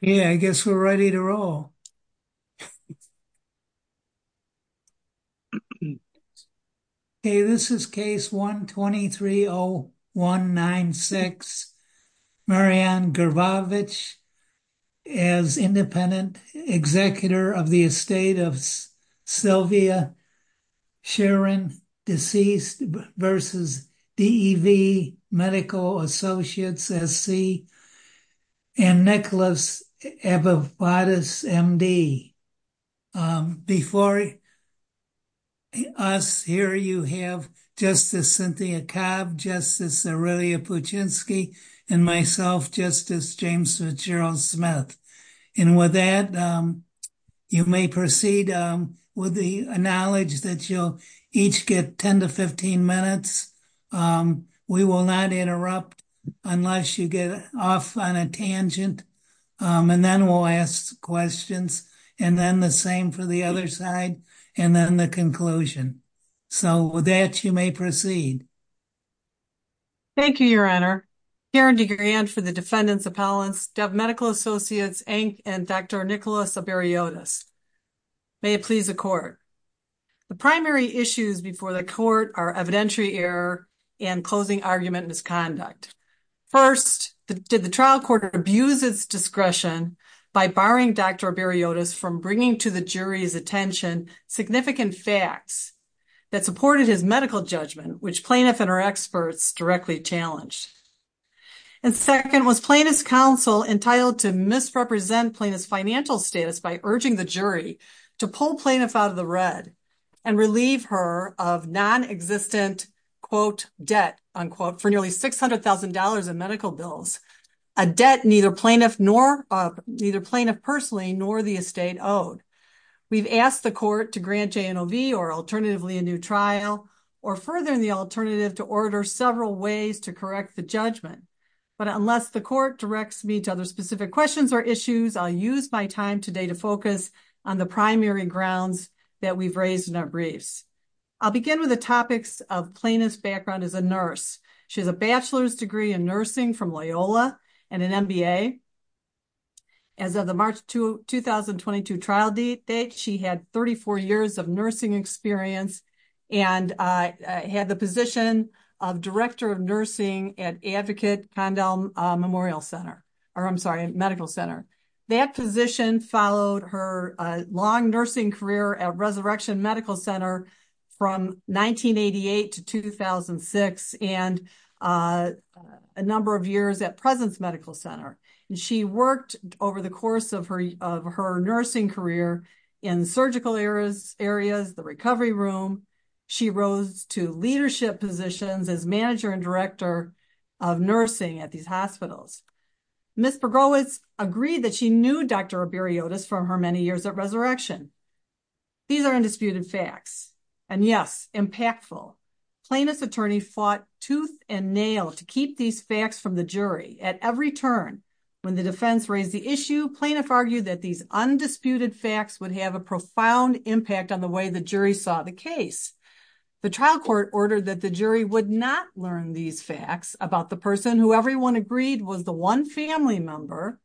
Yeah, I guess we're ready to roll. Hey, this is case one twenty three oh one nine six. Marianne Garbovich as independent executor of the estate of Sylvia Sharon deceased versus DEV Medical Associates SC and Nicholas Evobadis MD. Before us here you have Justice Cynthia Cobb, Justice Aurelia Pudzinski and myself Justice James Fitzgerald Smith. And with that you may proceed with the hearing. I acknowledge that you'll each get ten to fifteen minutes. We will not interrupt unless you get off on a tangent and then we'll ask questions and then the same for the other side and then the conclusion. So with that you may proceed. Thank you Your Honor. Hearing the hearing for the defendants appellants DEV Medical Associates and Dr. Nicholas Evobadis. May it please the court. The primary issues before the court are evidentiary error and closing argument misconduct. First, did the trial court abuse its discretion by barring Dr. Evobadis from bringing to the jury's attention significant facts that supported his medical judgment which plaintiff and her experts directly challenged. And second, was plaintiff's counsel entitled to misrepresent plaintiff's financial status by urging the jury to pull plaintiff out of the red and relieve her of non-existent quote debt unquote for nearly $600,000 in medical bills. A debt neither plaintiff nor neither plaintiff personally nor the estate owed. We've asked the court to grant J&OV or alternatively a new trial or further the alternative to order several ways to correct the judgment. But unless the court directs me to other specific questions or issues I'll use my time today to focus on the primary grounds that we've raised in our briefs. I'll begin with the topics of plaintiff's background as a nurse. She has a bachelor's degree in nursing from Loyola and an MBA. As of the March 2022 trial date, she had 34 years of nursing experience and had the position of director of nursing at Advocate Condell Memorial Center or I'm sorry, Medical Center. That position followed her long nursing career at Resurrection Medical Center from 1988 to 2006 and a number of years at Presence Medical Center. She worked over the course of her nursing career in surgical areas, the recovery room. She rose to leadership positions as manager and director of nursing at these hospitals. Ms. Pagroas agreed that she knew Dr. Berriotas for her many years at Resurrection. These are undisputed facts and yes, impactful. Plaintiff's attorneys fought tooth and nail to keep these facts from the jury at every turn. When the defense raised the issue, plaintiff argued that these undisputed facts would have a profound impact on the way the jury saw the case. The trial court ordered that the jury would not learn these facts about the person who everyone agreed was the one family member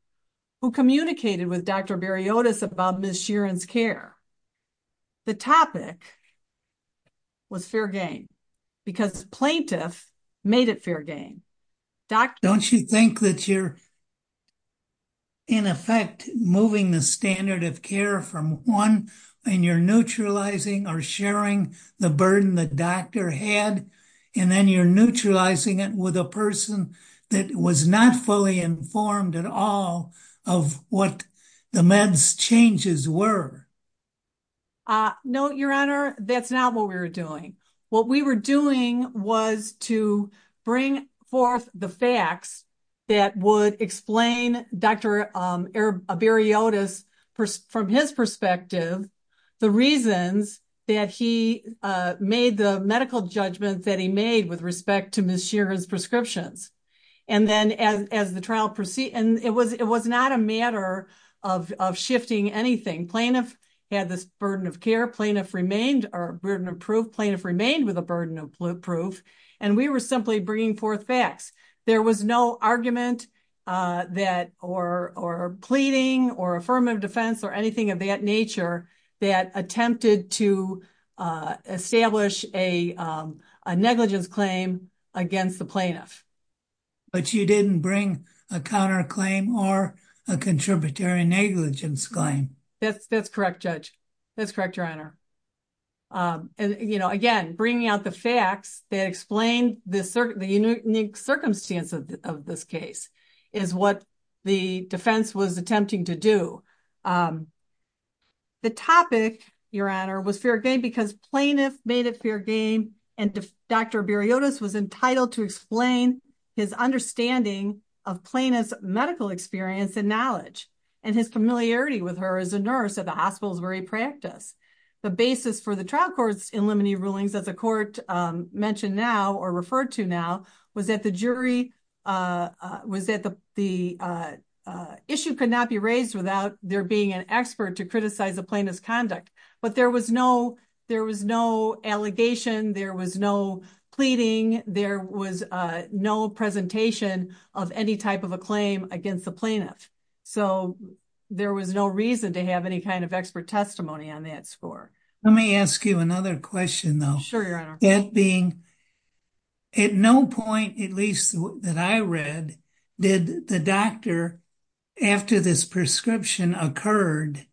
who communicated with Dr. Berriotas about Ms. Sheeran's care. The topic was fair game because the plaintiff made it fair game. Don't you think that you're in effect moving the standard of care from one and you're neutralizing or sharing the burden the doctor had and then you're neutralizing it with a person that was not fully informed at all of what the meds changes were? No, Your Honor, that's not what we were doing. What we were doing was to bring forth the facts that would explain Dr. Berriotas, from his perspective, the reasons that he made the medical judgment that he made with respect to Ms. Sheeran's prescriptions. It was not a matter of shifting anything. Plaintiff had this burden of care. Plaintiff remained with a burden of proof and we were simply bringing forth facts. There was no argument or pleading or affirmative defense or anything of that nature that attempted to establish a negligence claim against the plaintiff. But you didn't bring a counterclaim or a contributory negligence claim. That's correct, Judge. That's correct, Your Honor. Again, bringing out the facts to explain the unique circumstances of this case is what the defense was attempting to do. The topic, Your Honor, was fair game because plaintiff made it fair game and Dr. Berriotas was entitled to explain his understanding of plaintiff's medical experience and knowledge and his familiarity with her as a nurse at the hospital's very practice. The basis for the trial court's in limited rulings that the court mentioned now or referred to now was that the jury, was that the issue could not be raised without there being an expert to criticize the plaintiff's conduct. But there was no allegation. There was no pleading. There was no presentation of any type of a claim against the plaintiff. So there was no reason to have any kind of expert testimony on that score. Let me ask you another question. Sure, Your Honor. That being, at no point, at least that I read, did the doctor after this prescription occurred,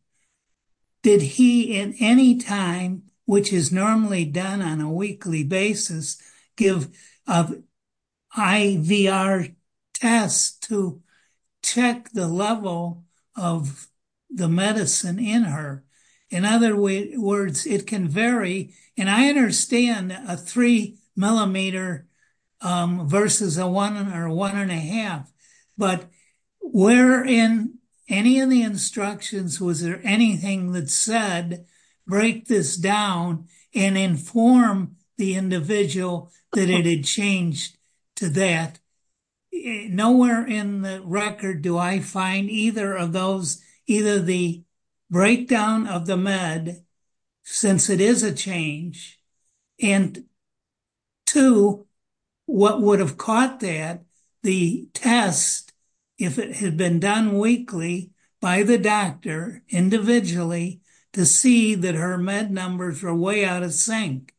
did he in any time, which is normally done on a weekly basis, give an IVR test to check the level of the medicine in her? In other words, it can vary, and I understand a three millimeter versus a one or one and a half, but were in any of the instructions, was there anything that said break this down and inform the individual that it had changed to that? Nowhere in the record do I find either of those, either the breakdown of the med since it is a change and two, what would have caught that the test if it had been done weekly by the doctor individually to see that her med numbers are way out of sync.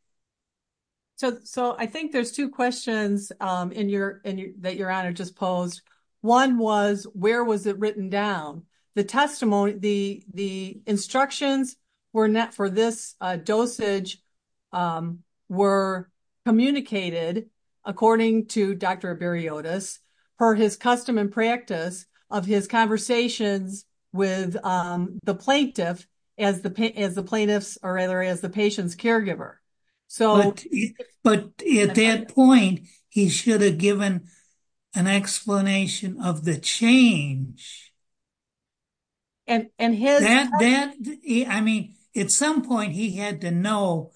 So I think there's two questions that Your Honor just posed. One was, where was it written down? The testimony, the instructions for this dosage were communicated according to Dr. Berriotis for his custom and practice of his conversation with the plaintiff as the patient's caregiver. But at that point, he should have given an explanation of the change. I mean, at some point he had to know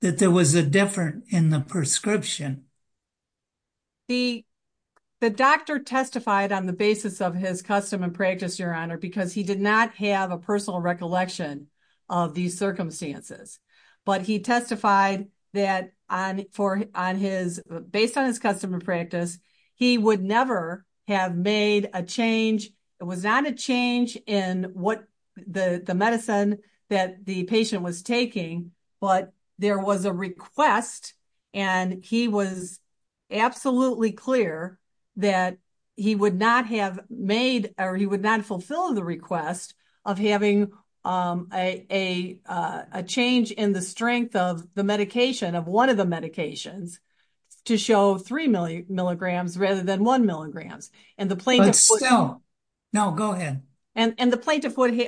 that there was a difference in the prescription. The doctor testified on the basis of his custom and practice, Your Honor, because he did not have a personal recollection of these circumstances. But he testified that based on his custom and practice, he would never have made a change. It was not a change in what the medicine that the patient was taking, but there was a request and he was absolutely clear that he would not have made or he would not fulfill the request of having a change in the strength of the medication, of one of the medications, to show three milligrams rather than one milligram. And the plaintiff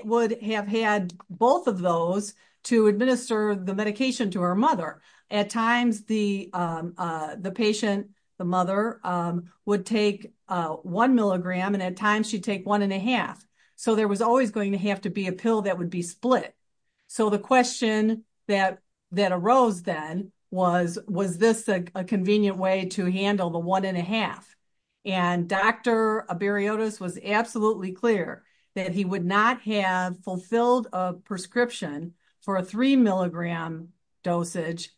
would have had both of those to administer the medication to her mother. At times the patient, the mother, would take one milligram and at times she'd take one and a half. So there was always going to have to be a pill that would be split. So the question that arose then was, was this a convenient way to handle the one and a half? And Dr. Berriotis was absolutely clear that he would not have fulfilled a prescription for a three milligram dosage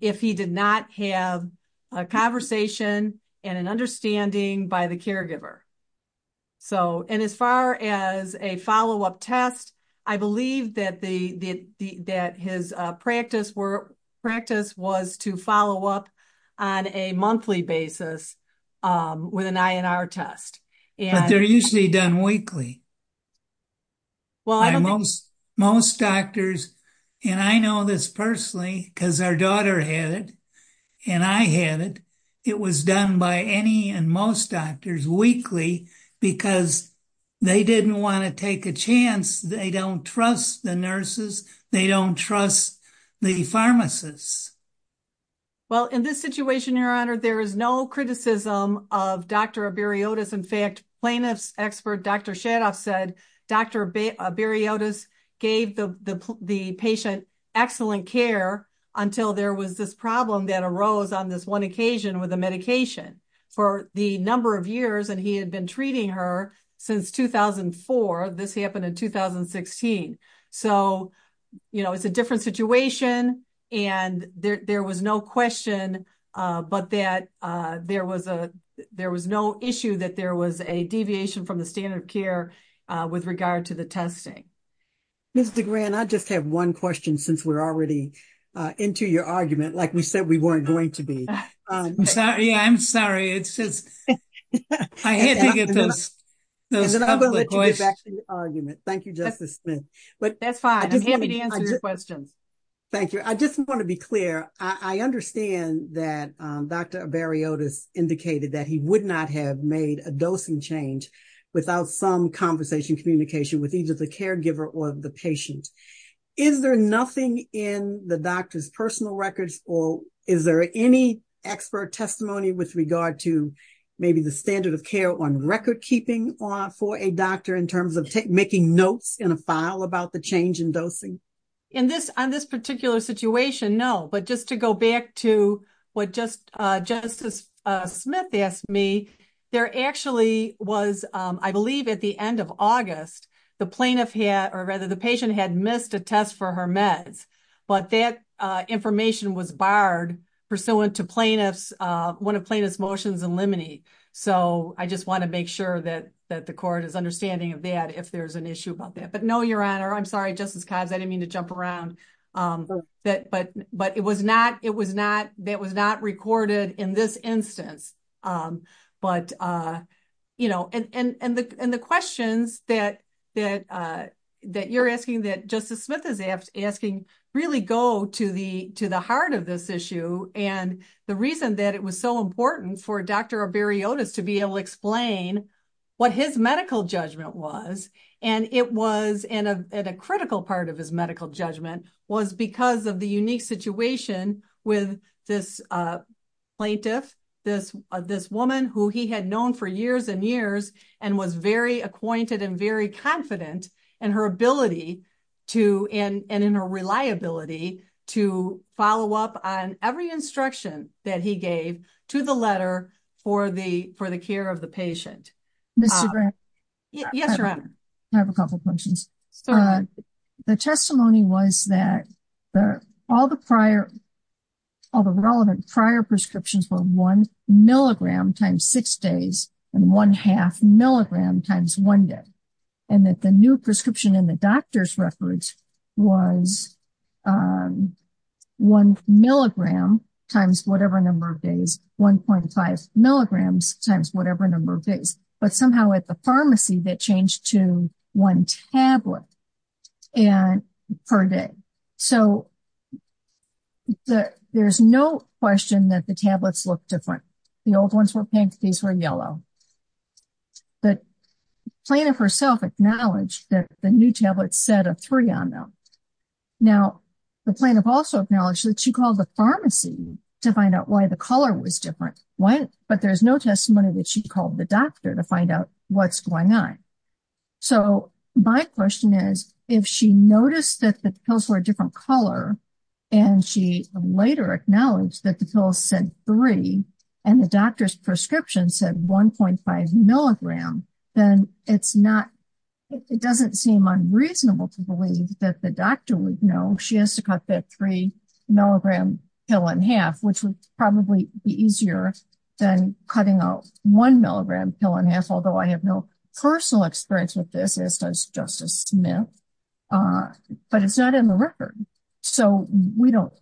if he did not have a conversation and an understanding by the caregiver. And as far as a follow-up test, I believe that his practice was to follow up on a monthly basis with an INR test. They're usually done weekly. Most doctors, and I know this personally because our daughter had it and I had it, it was done by any and most doctors weekly because they didn't want to take a chance. They don't trust the nurses. They don't trust the pharmacists. Well, in this situation, Your Honor, there is no criticism of Dr. Berriotis. As Dr. Shadoff said, Dr. Berriotis gave the patient excellent care until there was this problem that arose on this one occasion with a medication. For the number of years that he had been treating her since 2004, this happened in 2016. So it's a different situation and there was no question, but that there was no issue that there was a deviation from the standard of care with regard to the testing. I just have one question since we're already into your argument. Like we said, we weren't going to be. Yeah, I'm sorry. It's just argument. Thank you. But that's fine. Thank you. I just want to be clear. I understand that Dr. Berriotis indicated that he would not have made a dosing change without some conversation communication with either the caregiver or the patient. Is there nothing in the doctor's personal records or is there any expert testimony with regard to maybe the standard of care on record keeping for a doctor in terms of making notes in a file about the change in dosing? On this particular situation, no. But just to go back to what Justice Smith asked me, there actually was, I believe at the end of August, the patient had missed a test for her meds, but that information was barred pursuant to one of plaintiff's motions in limine. So I just want to make sure that the court is understanding of that if there's an issue about that. But no, Your Honor, I'm sorry, Justice Codds, I didn't mean to jump around. But it was not recorded in this instance. And the questions that you're asking that Justice Smith is asking really go to the heart of this issue. And the reason that it was so important for Dr. Arberiotis to be able to explain what his medical judgment was, and it was at a critical part of his medical judgment, was because of the unique situation with this plaintiff, this woman who he had known for years and years and was very reliable and very reliable in his medical judgment. And he was very reliable and in a reliability to follow up on every instruction that he gave to the letter for the care of the patient. » I have a couple of questions. The testimony was that all the prior, all the relevant prior prescriptions were one milligram times six days and one half milligram times one day. And that the new prescription in the doctor's records was one milligram times whatever number of days, 1.5 milligrams times whatever number of days. But somehow at the pharmacy, they changed to one tablet per day. So there's no question that the tablets look different. The old ones were pink. These were yellow. The plaintiff herself acknowledged that the new tablets said a three on them. Now, the plaintiff also acknowledged that she called the pharmacy to find out why the color was different. But there's no testimony that she called the doctor to find out what's going on. So my question is, if she noticed that the pills were a different color, and she later acknowledged that the pills said three, and the doctor's prescription said 1.5 milligrams, then it's not, it doesn't seem unreasonable to believe that the doctor would know she has to cut that three milligram pill in half, which would probably be easier than cutting a one milligram pill in half, although I have no personal experience with this as Justice Smith. But it's not in the record. So we don't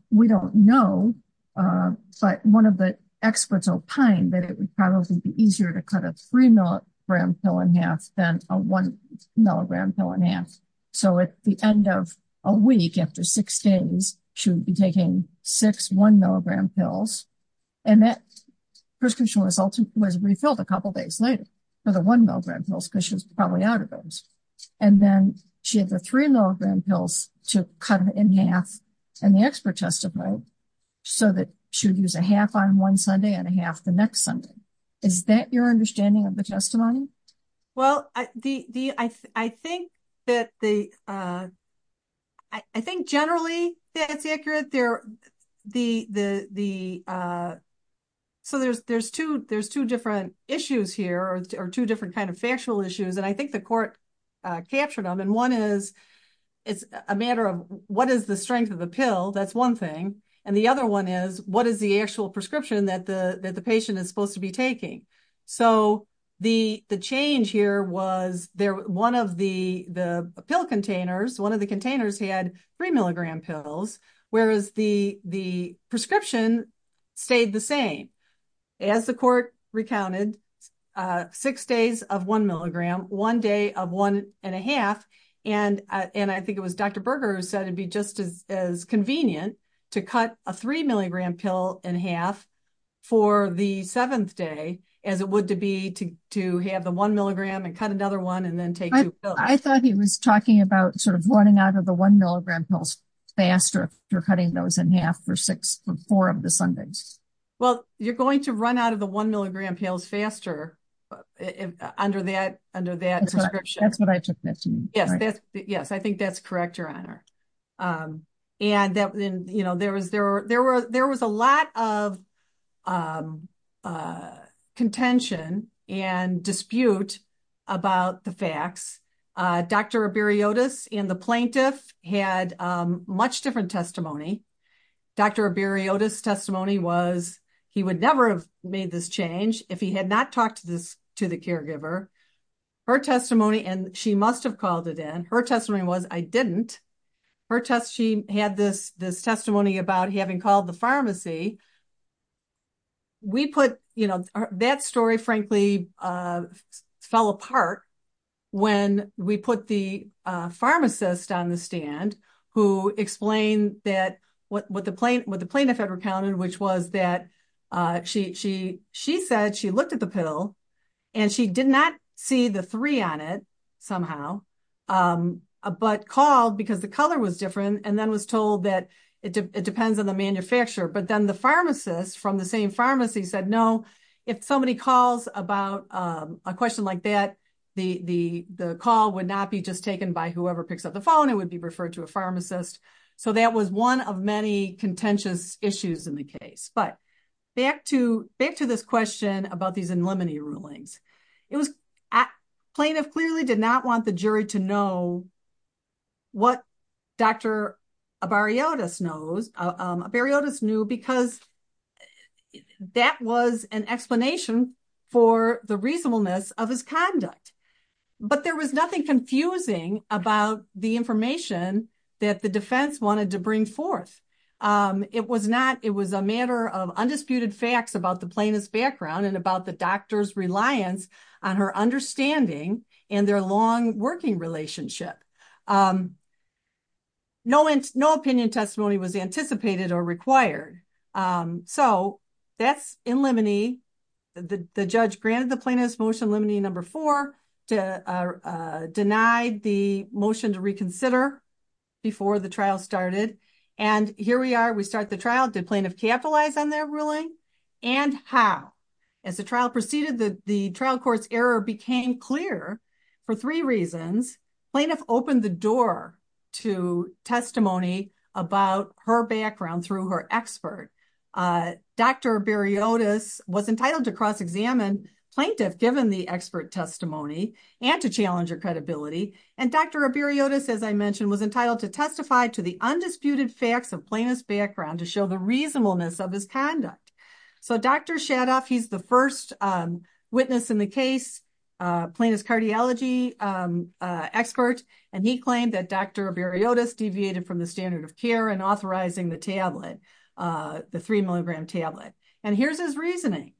know. But one of the experts opined that it would probably be easier to cut a three milligram pill in half than a one milligram pill in half. So at the end of a week after six days, she would be taking six one milligram pills. And that prescription was refilled a couple of days later for the one milligram pills because she was probably out of those. And then she had the three milligram pills to cut it in half. And the expert testified so that she would use a half on one Sunday and a half the next Sunday. Is that your understanding of the testimony? Well, I think that the I think generally that's accurate. So there's two different issues here or two different kind of factual issues. And I think the court captured them. And one is, it's a matter of what is the strength of the pill? That's one thing. And the other one is, what is the actual prescription that the patient is supposed to be taking? So the change here was one of the pill containers, one of the containers had three milligram pills, whereas the prescription stayed the same. As the court recounted, six days of one milligram, one day of one and a half. And I think it was Dr. Convinient to cut a three milligram pill in half for the seventh day as it would be to have the one milligram and cut another one and then take I thought he was talking about sort of running out of the one milligram pills faster after cutting those in half for four of the Sundays. Well, you're going to run out of the one milligram pills faster under that prescription. Yes, I think that's correct, Your Honor. And there was a lot of contention and dispute about the facts. Dr. Abiriotis and the plaintiff had much different testimony. Dr. Abiriotis testimony was he would never have made this change if he had not talked to the caregiver. Her testimony and she must have called it in. Her testimony was I didn't. She had this testimony about having called the pharmacy. That story, frankly, fell apart when we put the pharmacist on the stand who explained that what the plaintiff had recounted, which was that she said she looked at the pill and she did not see the three on it somehow, but called because the color was different and then was told that it depends on the manufacturer. But then the pharmacist from the same pharmacy said, no, if somebody calls about a question like that, the call would not be just taken by whoever picks up the phone. It would be referred to a pharmacist. So that was one of many contentious issues in the case. But back to this question about these in limine rulings. Plaintiff clearly did not want the jury to know what Dr. Abiriotis knows. Abiriotis knew because that was an explanation for the reasonableness of his conduct. But there was nothing confusing about the information that the defense wanted to bring forth. It was a matter of undisputed facts about the plaintiff's background and about the doctor's reliance on her understanding and their long working relationship. No opinion testimony was anticipated or required. So that's in limine. The judge granted the plaintiff's motion in limine number four to deny the motion to reconsider before the trial started. And here we are. We start the trial. Did plaintiff capitalize on that ruling and how? As the trial proceeded, the trial court's error became clear for three reasons. Plaintiff opened the door to testimony about her background through her expert. Dr. Abiriotis was entitled to cross examine plaintiff given the expert testimony and to challenge her credibility. And Dr. Abiriotis, as I mentioned, was entitled to testify to the undisputed facts of plaintiff's background to show the reasonableness of his conduct. So Dr. Shadoff, he's the first witness in the case, plaintiff's cardiology expert, and he claimed that Dr. Abiriotis deviated from the standard of care in authorizing the tablet, the three milligram tablet. And here's his reasoning.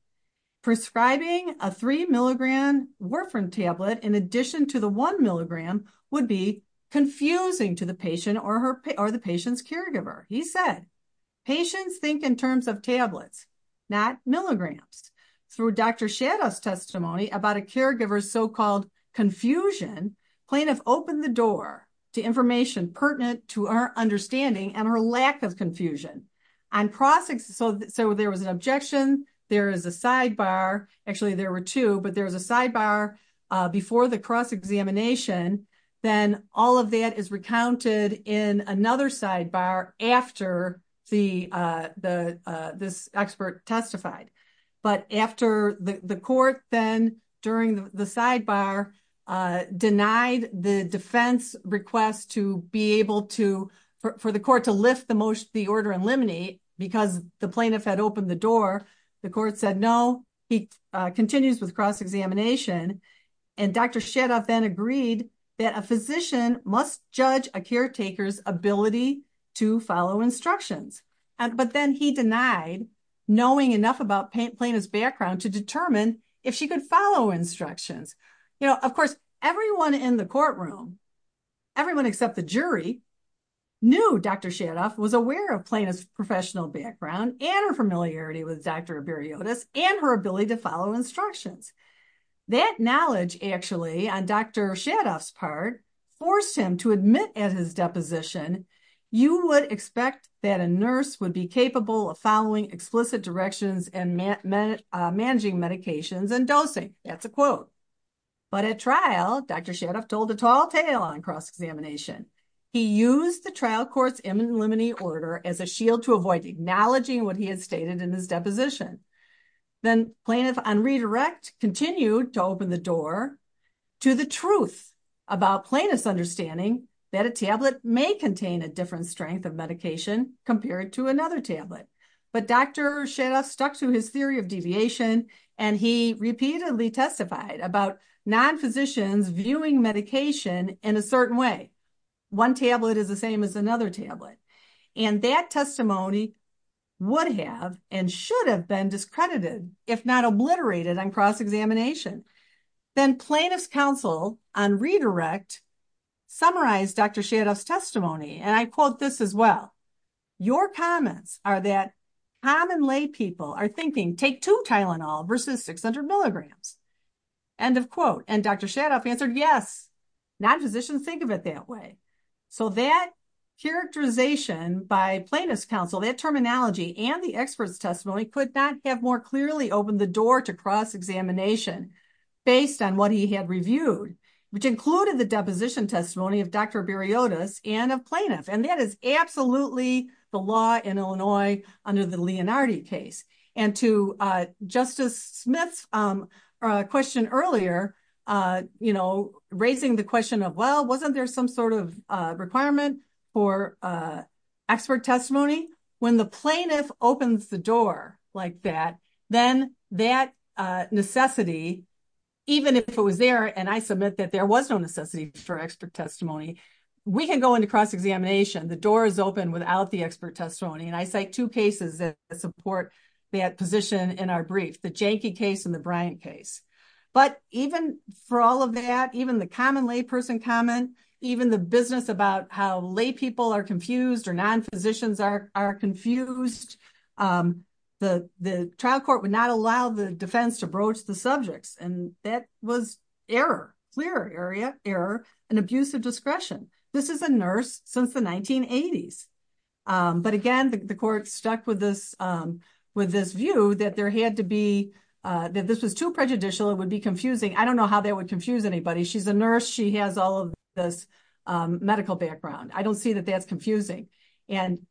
Prescribing a three milligram Warfarin tablet in addition to the one milligram would be confusing to the patient or the patient's caregiver. He said patients think in terms of tablets, not milligrams. Through Dr. Shadoff's testimony about a caregiver's so-called confusion, plaintiff opened the door to information pertinent to her understanding and her lack of confusion. So there was an objection. There is a sidebar. Actually, there were two, but there was a sidebar before the cross examination. Then all of that is recounted in another sidebar after this expert testified. But after the court then, during the sidebar, denied the defense request for the court to lift the order and eliminate because the plaintiff had opened the door, the court said no. He continues with cross examination, and Dr. Shadoff then agreed that a physician must judge a caretaker's ability to follow instructions. But then he denied knowing enough about plaintiff's background to determine if she could follow instructions. Of course, everyone in the courtroom, everyone except the jury, knew Dr. Shadoff was aware of plaintiff's professional background and her familiarity with Dr. Beriodas and her ability to follow instructions. That knowledge, actually, on Dr. Shadoff's part, forced him to admit at his deposition, you would expect that a nurse would be capable of following explicit directions and managing medications and dosing. That's a quote. But at trial, Dr. Shadoff told the tall tale on cross examination. He used the trial court's imminent limiting order as a shield to avoid acknowledging what he had stated in his deposition. Then plaintiff on redirect continued to open the door to the truth about plaintiff's understanding that a tablet may contain a different strength of medication compared to another tablet. But Dr. Shadoff stuck to his theory of deviation and he repeatedly testified about non-physicians viewing medication in a certain way. One tablet is the same as another tablet. And that testimony would have and should have been discredited if not obliterated on cross examination. Then plaintiff's counsel on redirect summarized Dr. Shadoff's testimony. And I quote this as well. Your comments are that common lay people are thinking take two Tylenol versus 600 milligrams. End of quote. And Dr. Shadoff answered yes. Non-physicians think of it that way. So that characterization by plaintiff's counsel, that terminology and the expert's testimony could not have more clearly opened the door to cross examination based on what he had reviewed, which included the deposition testimony of Dr. Berriotas and a plaintiff. And that is absolutely the law in Illinois under the Leonardi case. And to Justice Smith's question earlier, you know, raising the question of, well, wasn't there some sort of requirement for expert testimony? When the plaintiff opens the door like that, then that necessity, even if it was there, and I submit that there was no necessity for expert testimony, we can go into cross examination. The door is open without the expert testimony. And I cite two cases that support that position in our brief, the Janky case and the Bryant case. But even for all of that, even the common lay person comment, even the business about how lay people are confused or non-physicians are confused, the trial court would not allow the defense to broach the subject. And that was error, clear error, an abuse of discretion. This is a nurse since the 1980s. But again, the court stuck with this view that there had to be, that this was too prejudicial, it would be confusing. I don't know how that would confuse anybody. She's a nurse. She has all of this medical background. I don't see that that's confusing. And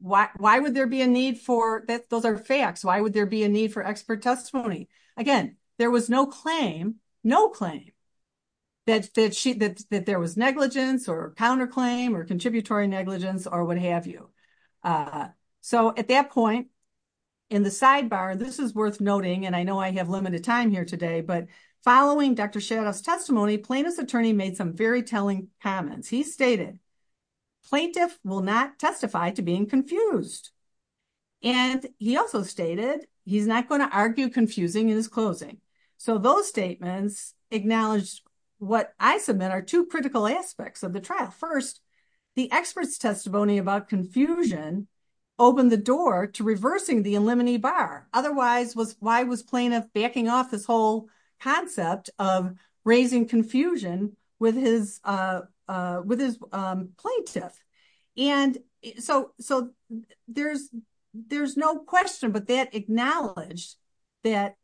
why would there be a need for, those are facts. Why would there be a need for expert testimony? Again, there was no claim, no claim, that there was negligence or counterclaim or contributory negligence or what have you. So at that point, in the sidebar, this is worth noting, and I know I have limited time here today, but following Dr. Shadoff's testimony, plaintiff's attorney made some very telling comments. He stated, plaintiffs will not testify to being confused. And he also stated, he's not going to argue confusing in his closing. So those statements acknowledge what I submit are two critical aspects of the trial. First, the expert's testimony about confusion opened the door to reversing the Illimini Bar. Otherwise, why was plaintiff backing off this whole concept of raising confusion with his plaintiff? And so there's no question, but that acknowledged that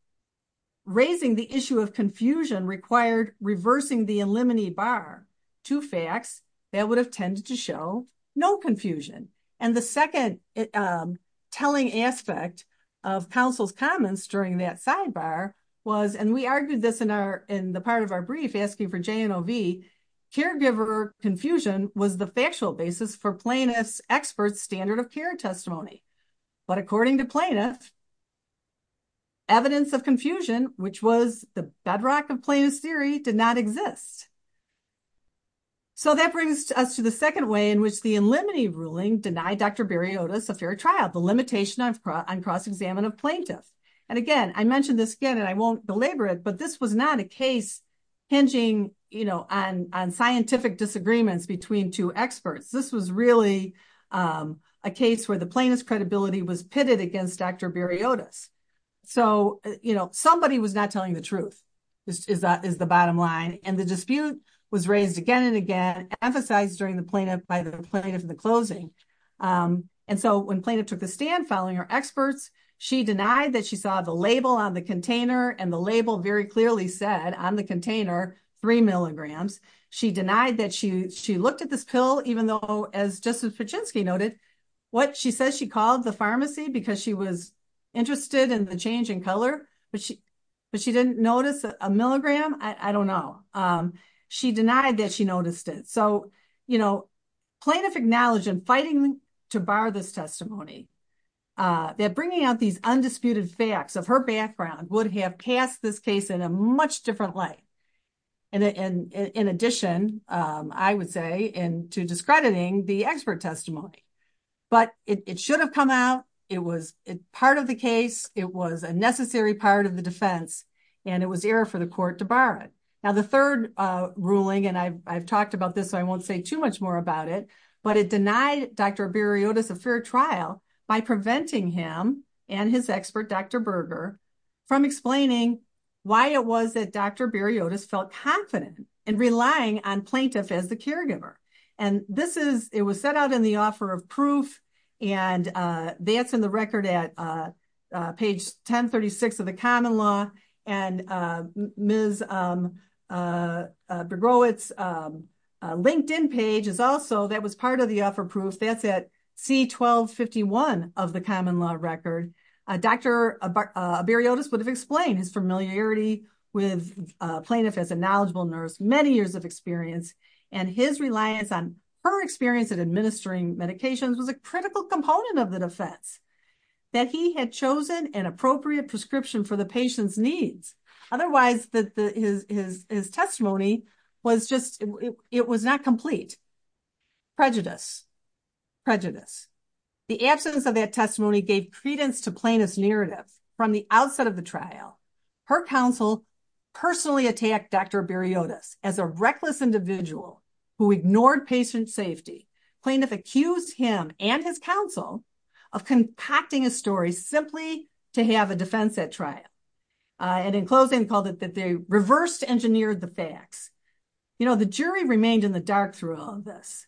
raising the issue of confusion required reversing the Illimini Bar, two facts that would have tended to show no confusion. And the second telling aspect of counsel's comments during that sidebar was, and we argued this in the part of our brief asking for J&OV, caregiver confusion was the factual basis for plaintiff's expert standard of care testimony. But according to plaintiffs, evidence of confusion, which was the bedrock of plaintiff's theory, did not exist. So that brings us to the second way in which the Illimini ruling denied Dr. Bariotis a fair trial, the limitation on cross-examination of plaintiffs. And again, I mentioned this again and I won't belabor it, but this was not a case hinging on scientific disagreements between two experts. This was really a case where the plaintiff's credibility was pitted against Dr. Bariotis. So somebody was not telling the truth, is the bottom line. And the dispute was raised again and again, emphasized by the plaintiff in the closing. And so when plaintiff took a stand following her experts, she denied that she saw the label on the container and the label very clearly said on the container, three milligrams. She denied that she looked at this pill, even though as Justice Paczynski noted, what she says she called the pharmacy because she was interested in the change in color, but she didn't notice a milligram. I don't know. She denied that she noticed it. So plaintiff acknowledged in fighting to bar this testimony, that bringing up these undisputed facts of her background would have passed this case in a much different way. And in addition, I would say and to discrediting the expert testimony, but it should have come out. It was part of the case. It was a necessary part of the defense and it was error for the court to bar it. Now the third ruling, and I've talked about this, I won't say too much more about it, but it was a fair trial by preventing him and his expert, Dr. Berger from explaining why it was that Dr. Berger felt confident in relying on plaintiff as the caregiver. And this is, it was set out in the offer of proof and that's in the record at page 1036 of the common law and Ms. Berger's LinkedIn page is also that was part of the offer proof. That's at C1251 of the common law record. Dr. Berger would have explained his familiarity with plaintiff as a knowledgeable nurse, many years of experience and his reliance on her experience of administering medications was a critical component of the defense. That he had chosen an appropriate prescription for the patient's needs. Otherwise his testimony was just, it was not complete. Prejudice. Prejudice. The absence of that testimony gave credence to plaintiff's narrative from the outset of the trial. Her counsel personally attacked Dr. Berriotas as a reckless individual who ignored patient safety. Plaintiff accused him and his counsel of contacting a story simply to have a defense at trial. And in closing called it that they reversed engineered the facts. You know, the jury remained in the dark through all of this.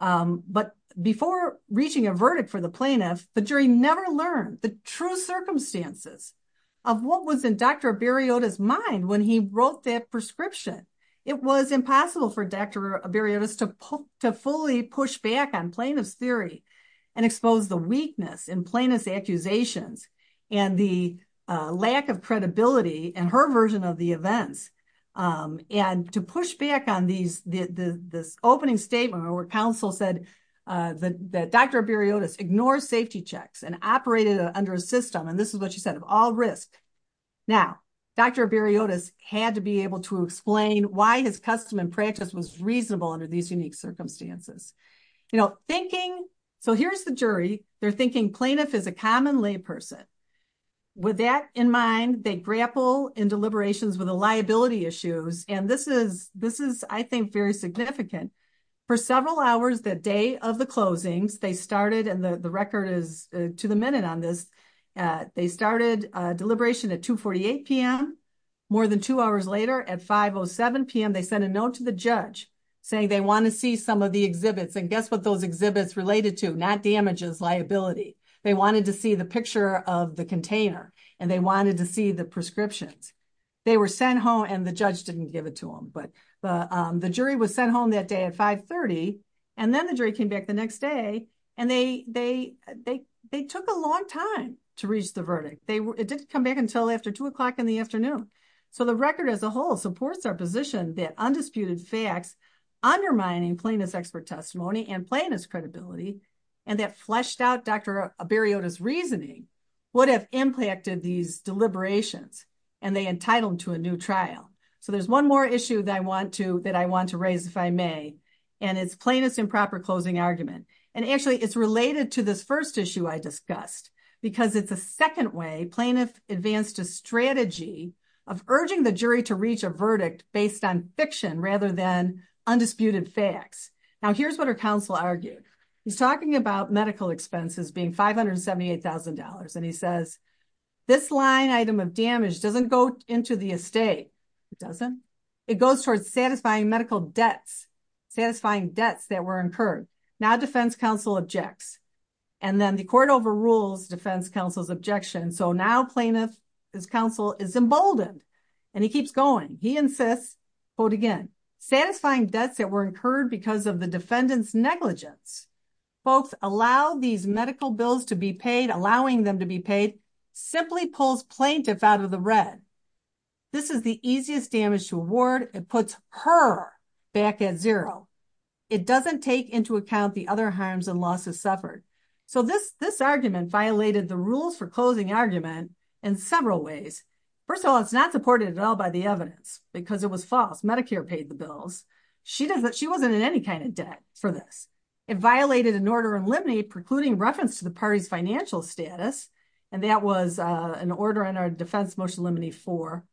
But before reaching a verdict for the plaintiff, the jury never learned the true circumstances of what was in Dr. Berriotas mind when he wrote that prescription. It was impossible for Dr. Berriotas to fully push back on plaintiff's theory and expose the weakness in plaintiff's accusations and the lack of credibility in her version of the events. And to push back on the opening statement where counsel said that Dr. Berriotas ignored safety checks and operated under a system, and this is what she said, of all risks. Now, Dr. Berriotas had to be able to explain why his custom and practice was reasonable under these unique circumstances. So here's the jury. They're thinking plaintiff is a common lay person. With that in mind, they grapple in deliberations with the liability issues. And this is, I think, very significant. For several hours the day of the closing, they started, and the record is to the minute on this, they started deliberation at 2.48 p.m. More than two hours later, at 5.07 p.m., they sent a note to the judge saying they want to see some of the exhibits. And guess what those exhibits related to? Not damages, liability. They wanted to see the picture of the container and they wanted to see the prescription. They were sent home and the judge didn't give it to them. But the jury was sent home that day at 5.30 and then the jury came back the next day and they took a long time to reach the verdict. It didn't come back until after 2 o'clock in the afternoon. So the record as a whole supports our position that undisputed facts undermining plaintiff's expert testimony and plaintiff's credibility and that fleshed out Dr. Berriotas' reasoning would have impacted these deliberations and they entitled to a new trial. So there's one more issue that I want to raise, if I may, and it's plaintiff's improper closing argument. And actually it's related to this first issue I discussed because it's a second way plaintiff's advanced a strategy of urging the jury to reach a verdict based on fiction rather than undisputed facts. Now here's what our counsel argues. He's talking about medical expenses being $578,000 and he says this line item of damage doesn't go into the estate. It doesn't. It goes towards satisfying medical debts, satisfying debts that were incurred. Now defense counsel objects and then the court overrules defense counsel's objection. So now plaintiff's counsel is emboldened and he keeps going. He insists, quote folks allow these medical bills to be paid, allowing them to be paid, simply pulls plaintiff out of the red. This is the easiest damage to award and puts her back at zero. It doesn't take into account the other harms and losses suffered. So this argument violated the rules for closing the argument in several ways. First of all, it's not supported at all by the evidence because it was false. It violated an order in limine precluding reference to the party's financial status. And that was an order in our defense motion limine 4.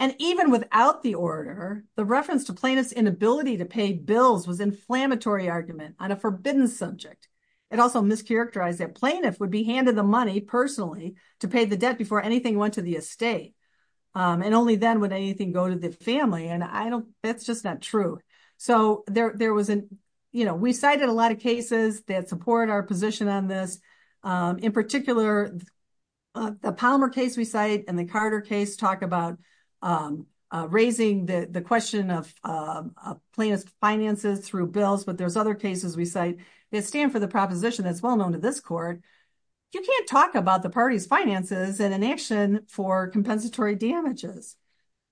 And even without the order, the reference to plaintiff's inability to pay bills was inflammatory argument on a forbidden subject. It also mischaracterized that plaintiff would be handed the money personally to pay the debt before anything went to the estate. And only then would anything go to the family. And that's just not true. We cited a lot of cases that support our position on this. In particular, the Palmer case we cite and the Carter case talk about raising the question of plaintiff's finances through bills. But there's other cases we cite that stand for the proposition that's well known to this court. You can't talk about the party's finances in an action for compensatory damages.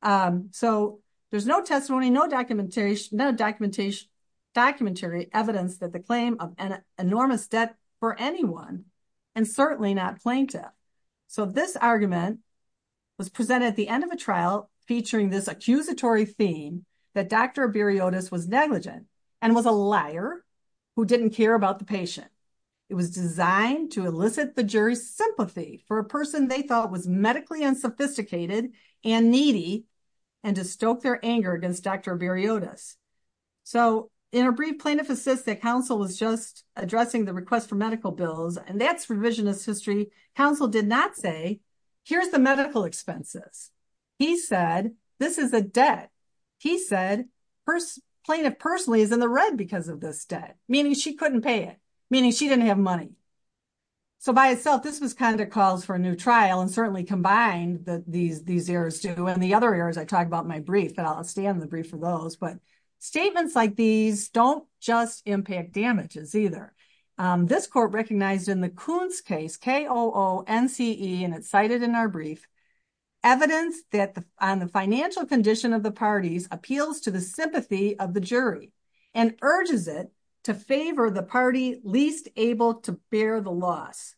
So there's no testimony, no documentation, no documentation, documentary evidence that the claim of an enormous debt for anyone and certainly not plaintiff. So this argument was presented at the end of the trial featuring this accusatory theme that Dr. Abiriotis was negligent and was a liar who didn't care about the patient. It was designed to elicit the jury's sympathy for a person they thought was medically unsophisticated and needy and to stoke their anger against Dr. Abiriotis. So in a brief plaintiff assist, the counsel was just addressing the request for medical bills. And that's provision of history. Counsel did not say, here's the medical expenses. He said, this is a debt. He said plaintiff personally is in the red because of this debt, meaning she couldn't pay it, meaning she didn't have money. So by itself, this is kind of the cause for a new trial and certainly combined these errors too. And the other errors I talked about in my brief, I'll stay on the brief for those. But statements like these don't just impact damages either. This court recognized in the Koonce case, K-O-O-N-C-E, and it's cited in our brief, evidence that on the financial condition of the parties appeals to the sympathy of the jury and urges it to favor the party least able to bear the loss.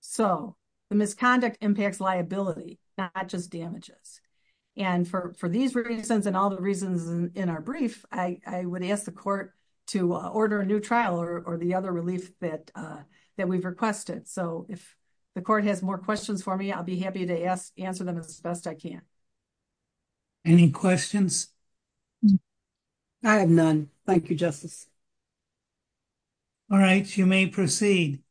So the misconduct impacts liability, not just damages. And for these reasons and all the reasons in our brief, I would ask the court to order a new trial or the other relief that we've requested. So if the court has more questions for me, I'll be happy to answer them as best I can. Any questions? I have none. Thank you, Justice. All right. You may proceed.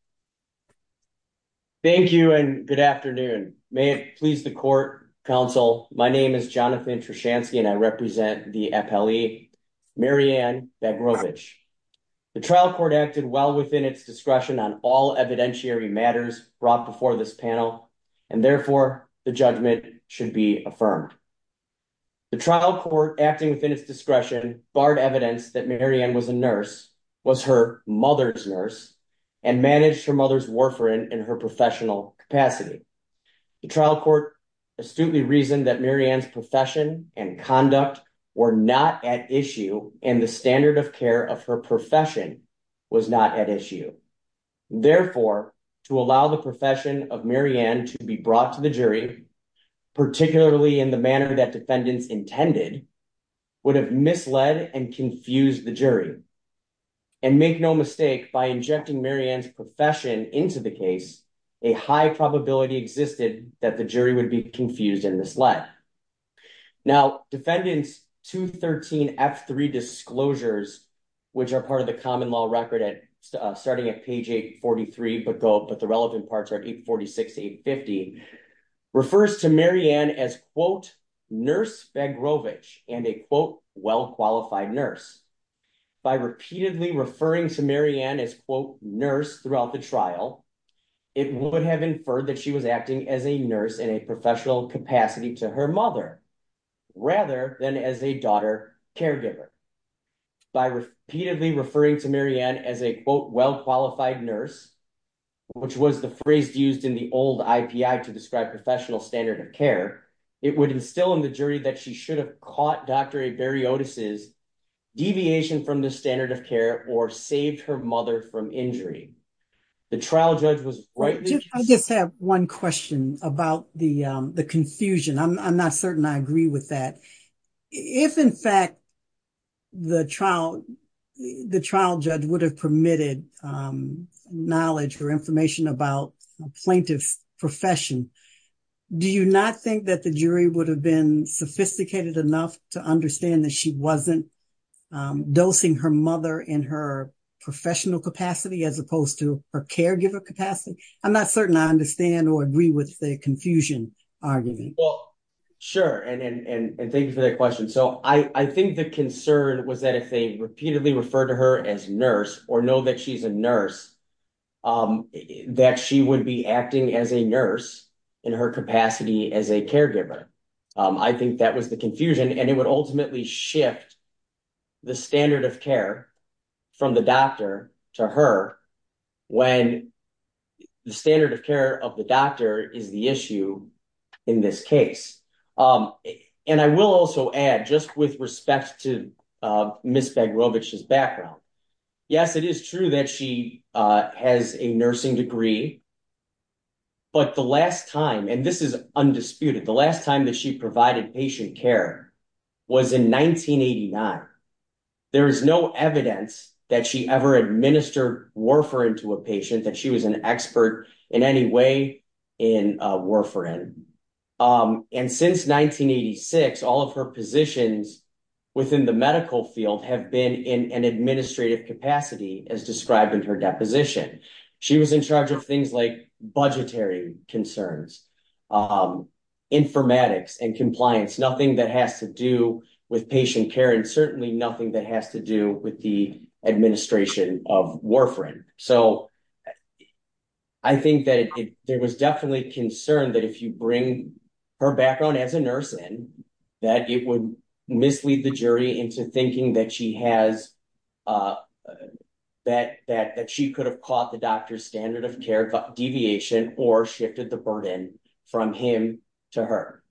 Thank you and good afternoon. May it please the court, counsel. My name is Jonathan Trushansky and I represent the FLE, Marianne Babrovich. The trial court acted well within its discretion on all evidentiary matters brought before this panel and therefore the judgment should be affirmed. The trial court acting within its discretion barred evidence that Marianne was a nurse, was her mother's nurse, and managed her mother's warfarin in her professional capacity. The trial court astutely reasoned that Marianne's profession and conduct were not at issue and the standard of care of her profession was not at issue. Therefore, to allow the profession of Marianne to be brought to the jury, particularly in the manner that defendants intended, would have misled and confused the jury. And make no mistake, by injecting Marianne's profession into the case, a high probability existed that the jury would be confused and misled. Now, defendants 213F3 disclosures, which are part of the common law record starting at page 843, but the relevant parts are 846 to 850, refers to Marianne as, quote, nurse Babrovich and a, quote, well-qualified nurse. By repeatedly referring to Marianne as, quote, nurse throughout the trial, it would have inferred that she was acting as a nurse in a professional capacity to her mother, rather than as a daughter caregiver. By repeatedly referring to Marianne as a, quote, well-qualified nurse, which was the phrase used in the old IPI to describe her professional standard of care, it would instill in the jury that she should have caught Dr. Averiotis' deviation from the standard of care or saved her mother from injury. The trial judge was right. I just have one question about the confusion. I'm not certain I agree with that. If, in fact, the trial judge would have permitted knowledge or information about the plaintiff's profession, do you not think that the jury would have been sophisticated enough to understand that she wasn't dosing her mother in her professional capacity as opposed to her caregiver capacity? I'm not certain I understand or agree with the confusion argument. Well, sure. And thank you for that question. So I think the concern was that if they repeatedly referred to her as nurse or know that she's a nurse, that she would be acting as a nurse in her capacity as a caregiver. I think that was the confusion and it would ultimately shift the standard of care from the doctor to her when the standard of care of the doctor is the issue in this case. And I will also add, just with respect to Ms. Zaglovich's background, yes, it is true that she has a nursing degree. But the last time, and this is undisputed, the last time that she provided patient care was in 1989. There is no evidence that she ever administered Warfarin to a patient, that she was an expert in any way in Warfarin. And since 1986, all of her positions within the medical field have been in an administrative capacity as described in her deposition. She was in charge of things like budgetary concerns, informatics and compliance, nothing that has to do with patient care and certainly nothing that has to do with the administration of Warfarin. So I think that there was definitely concern that if you bring her background as a nurse in, that it would mislead the jury into thinking that she has, that she could have caught the doctor's standard of care deviation or shifted the burden from him to her.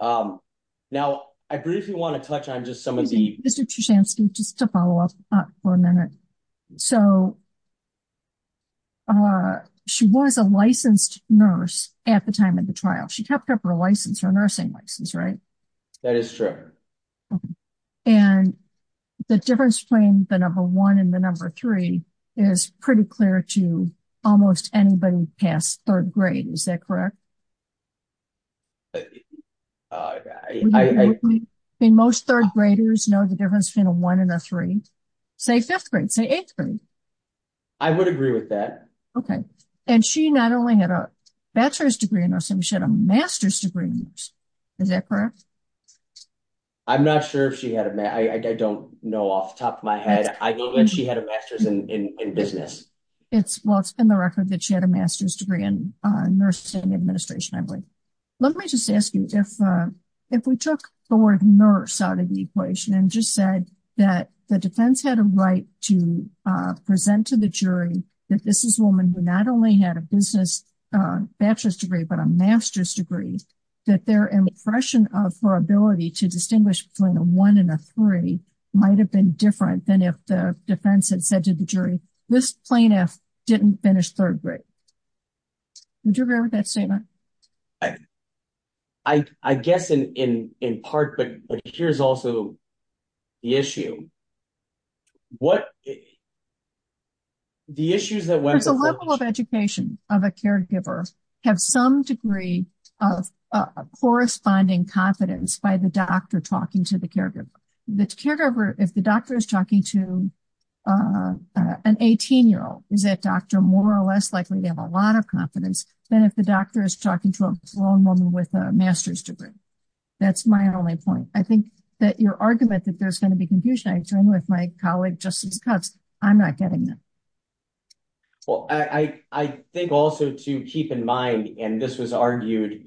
Now, I briefly want to touch on just some of the... Just to follow up for a minute. So she was a licensed nurse at the time of the trial. She kept her license, her nursing license, right? That is true. And the difference between the number one and the number three is pretty clear to almost anybody past third grade. Is that correct? Most third graders know the difference between a one and a three. Say fifth grade, say eighth grade. I would agree with that. Okay. And she not only had a bachelor's degree in nursing, she had a master's degree in nursing. Is that correct? I'm not sure if she had a... I don't know off the top of my head. I believe she had a master's in business. Well, it's in the record that she had a master's degree in nursing administration, I believe. Let me just ask you, if we took the word nurse out of the equation and just said that the defense had a right to present to the jury that this is a woman who not only had a business bachelor's degree, but a master's degree, that their impression of her ability to distinguish between a one and a three might have been different than if the defense had said to the jury, this plaintiff didn't finish third grade. Would you agree with that statement? I guess in part, but here's also the issue. What... Does the level of education of a caregiver have some degree of corresponding confidence by the doctor talking to the caregiver? If the doctor is talking to an 18 year old, is that doctor more or less likely to have a lot of confidence than if the doctor is talking to a grown woman with a master's degree? That's my only point. I think that your argument that there's going to be a lot of confusion, I agree with my colleague, Justin Cuff, I'm not getting this. Well, I think also to keep in mind, and this was argued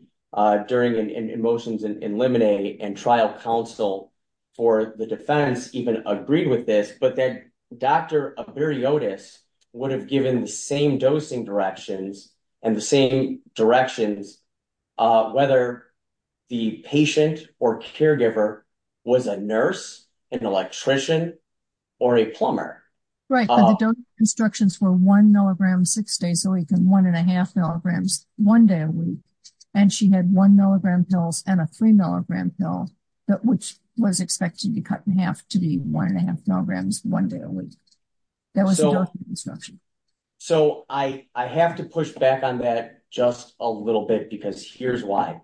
during the motions in Lemonade and trial counsel for the defense even agreed with this, but then Dr. Abiriotis would have given the same dosing directions and the same directions, whether the patient or caregiver was a nurse, an electrician, or a plumber. Right, but the dosing instructions were one milligram six days a week and one and a half milligrams one day a week. And she had one milligram pills and a three milligram pill, which was expected to be cut in half to be one and a half milligrams one day a week. That was the dosing instructions. So I have to push back on that just a little bit because here's why.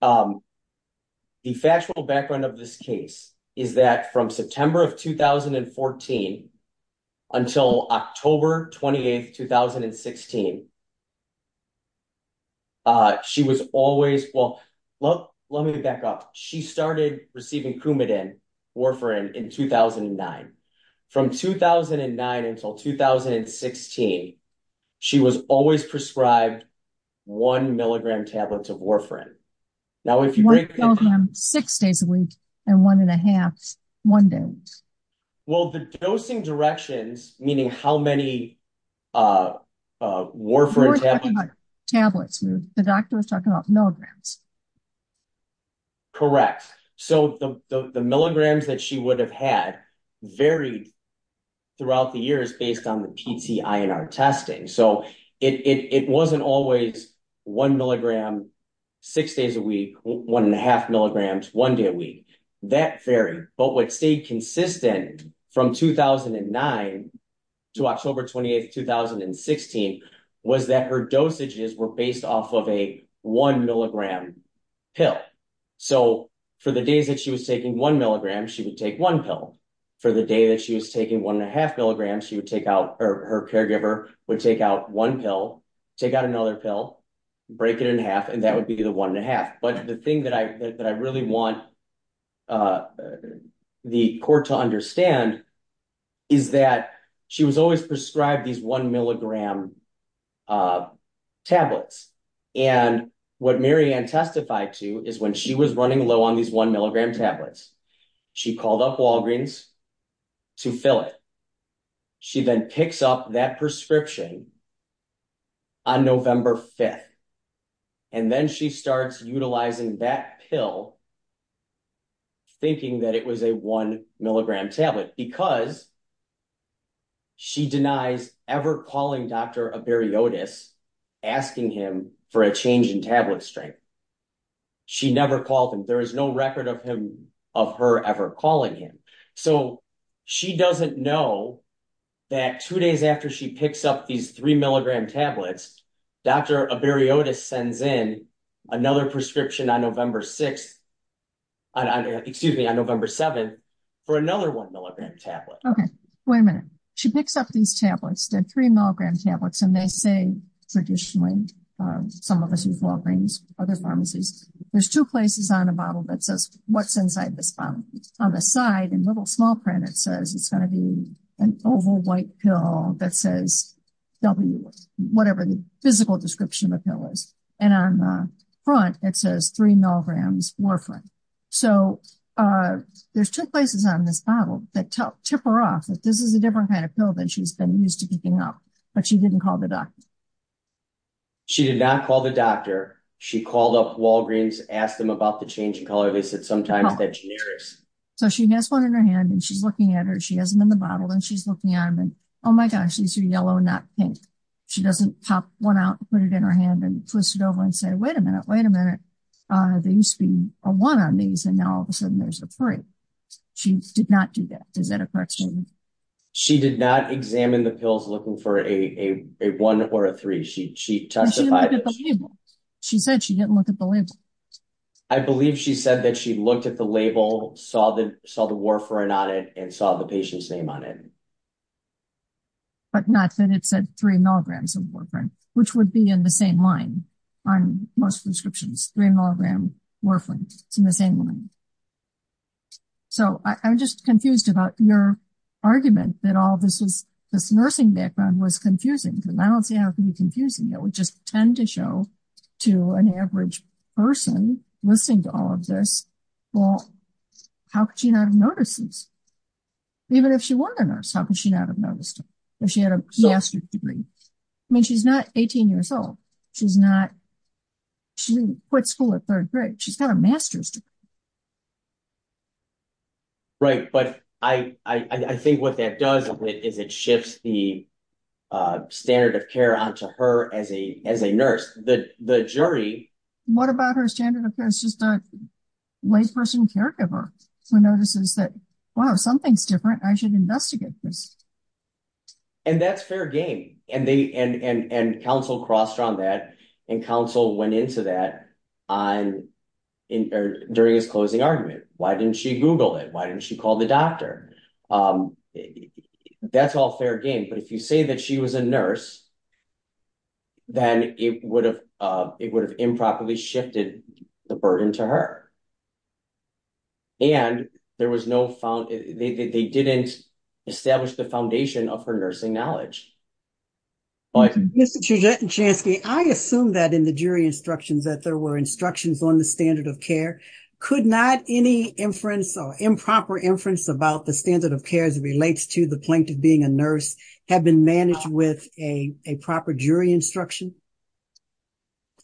The factual background of this case is that from September of 2014 until October 28, 2016, she was always, well, let me back up. She started receiving Coumadin Warfarin in 2009. From 2009 until 2016, she was always prescribed one milligram tablets of Warfarin. One milligram six days a week and one and a half one day. Well, the dosing directions, meaning how many Warfarin tablets, the doctor was prescribing, were based off of one and a half milligrams. Correct. So the milligrams that she would have had varied throughout the years based on the PTIR testing. So it wasn't always one milligram six days a week, one and a half milligrams one day a week. That varied. But what stayed the same was that she was prescribed one milligram pill. So for the day that she was taking one milligram, she would take one pill. For the day that she was taking one and a half milligrams, her caregiver would take out one pill, take out another pill, break it in half, and that would be the one and a half. But the thing that I really want the court to understand is that she was always prescribed these one milligram tablets. And what Mary Ann testified to is when she was running low on these one milligram tablets, she called up Walgreens to fill it. She then picks up that prescription on November 5th. And then she starts utilizing that pill thinking that it was a one milligram tablet because she denies ever calling Dr. Averiotis asking him for a change in tablet strength. She never called him. There is no record of her ever calling him. So she doesn't know that two days after she picks up these three milligram tablets, Dr. Averiotis sends in another prescription on November 6th, excuse me, on November 7th for another one milligram tablet. Okay. Wait a minute. She picks up these tablets, the three milligram tablets, and they say traditionally, some of us at Walgreens, other pharmacies, there's two places on the bottle that says what's inside this bottle. On the side, in little small print, it says it's going to be an oval white pill that says W, whatever the physical description of the pill is. And on the front, it says three milligrams warfarin. So there's two places on this bottle that tip her off that this is a different kind of pill than she's been used to picking up. But she didn't call the doctor. She did not call the doctor. She called up Walgreens, asked them about the change in color. So she has one in her hand and she's looking at her. She has them in the bottle and she's looking at them. Oh my gosh, these are yellow, not pink. She doesn't pop one out, put it in her hand and twist it over and say, wait a minute, wait a minute. There used to be a one on these and now all of a sudden there's a three. She did not do that. Is that a correction? She did not examine the pills looking for a one or a three. She said she didn't look at the label. I believe she said that she looked at the label, saw the warfarin on it and saw the patient's name on it. But not that it said three milligrams of warfarin, which would be in the same line on most prescriptions, three milligrams warfarin in the same line. So I'm just confused about your argument that all this nursing background was confusing. I don't think it was confusing. It would just tend to show to an average person listening to all of this, well, how could she not have noticed this? Even if she were a nurse, how could she not have noticed? She had a master's degree. I mean, she's not 18 years old. She quit school at third grade. She's got a master's degree. Right. But I think what that does is it shifts the standard of care onto her as a nurse. The jury... What about her standard of care is just a white person caregiver who notices that, wow, something's different. I should investigate this. And that's their game. And counsel crossed around that and counsel went into that during his closing argument. Why didn't she Google it? Why didn't she call the doctor? That's all fair game. But if you say that she was a nurse, then it would have improperly shifted the burden to her. And there was no... They didn't establish the foundation of her nursing knowledge. I assume that in the jury instructions that there were instructions on the standard of care. Could not any improper inference about the standard of care as it relates to the plaintiff being a nurse have been managed with a proper jury instruction?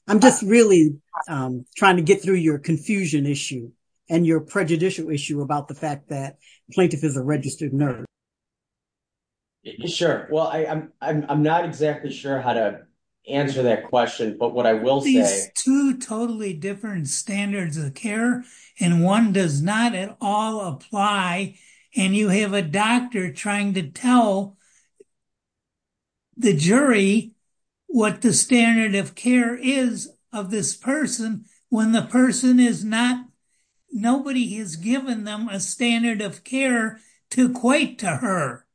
I'm just really trying to get through your confusion issue and your prejudicial issue about the fact that the plaintiff is a registered nurse. Sure. Well, I'm not exactly sure how to answer that question, but what I will say... Two totally different standards of care and one does not at all apply. And you have a doctor trying to tell the jury what the standard of care is of this person when the person is not... Nobody has given them a standard of care to equate to her.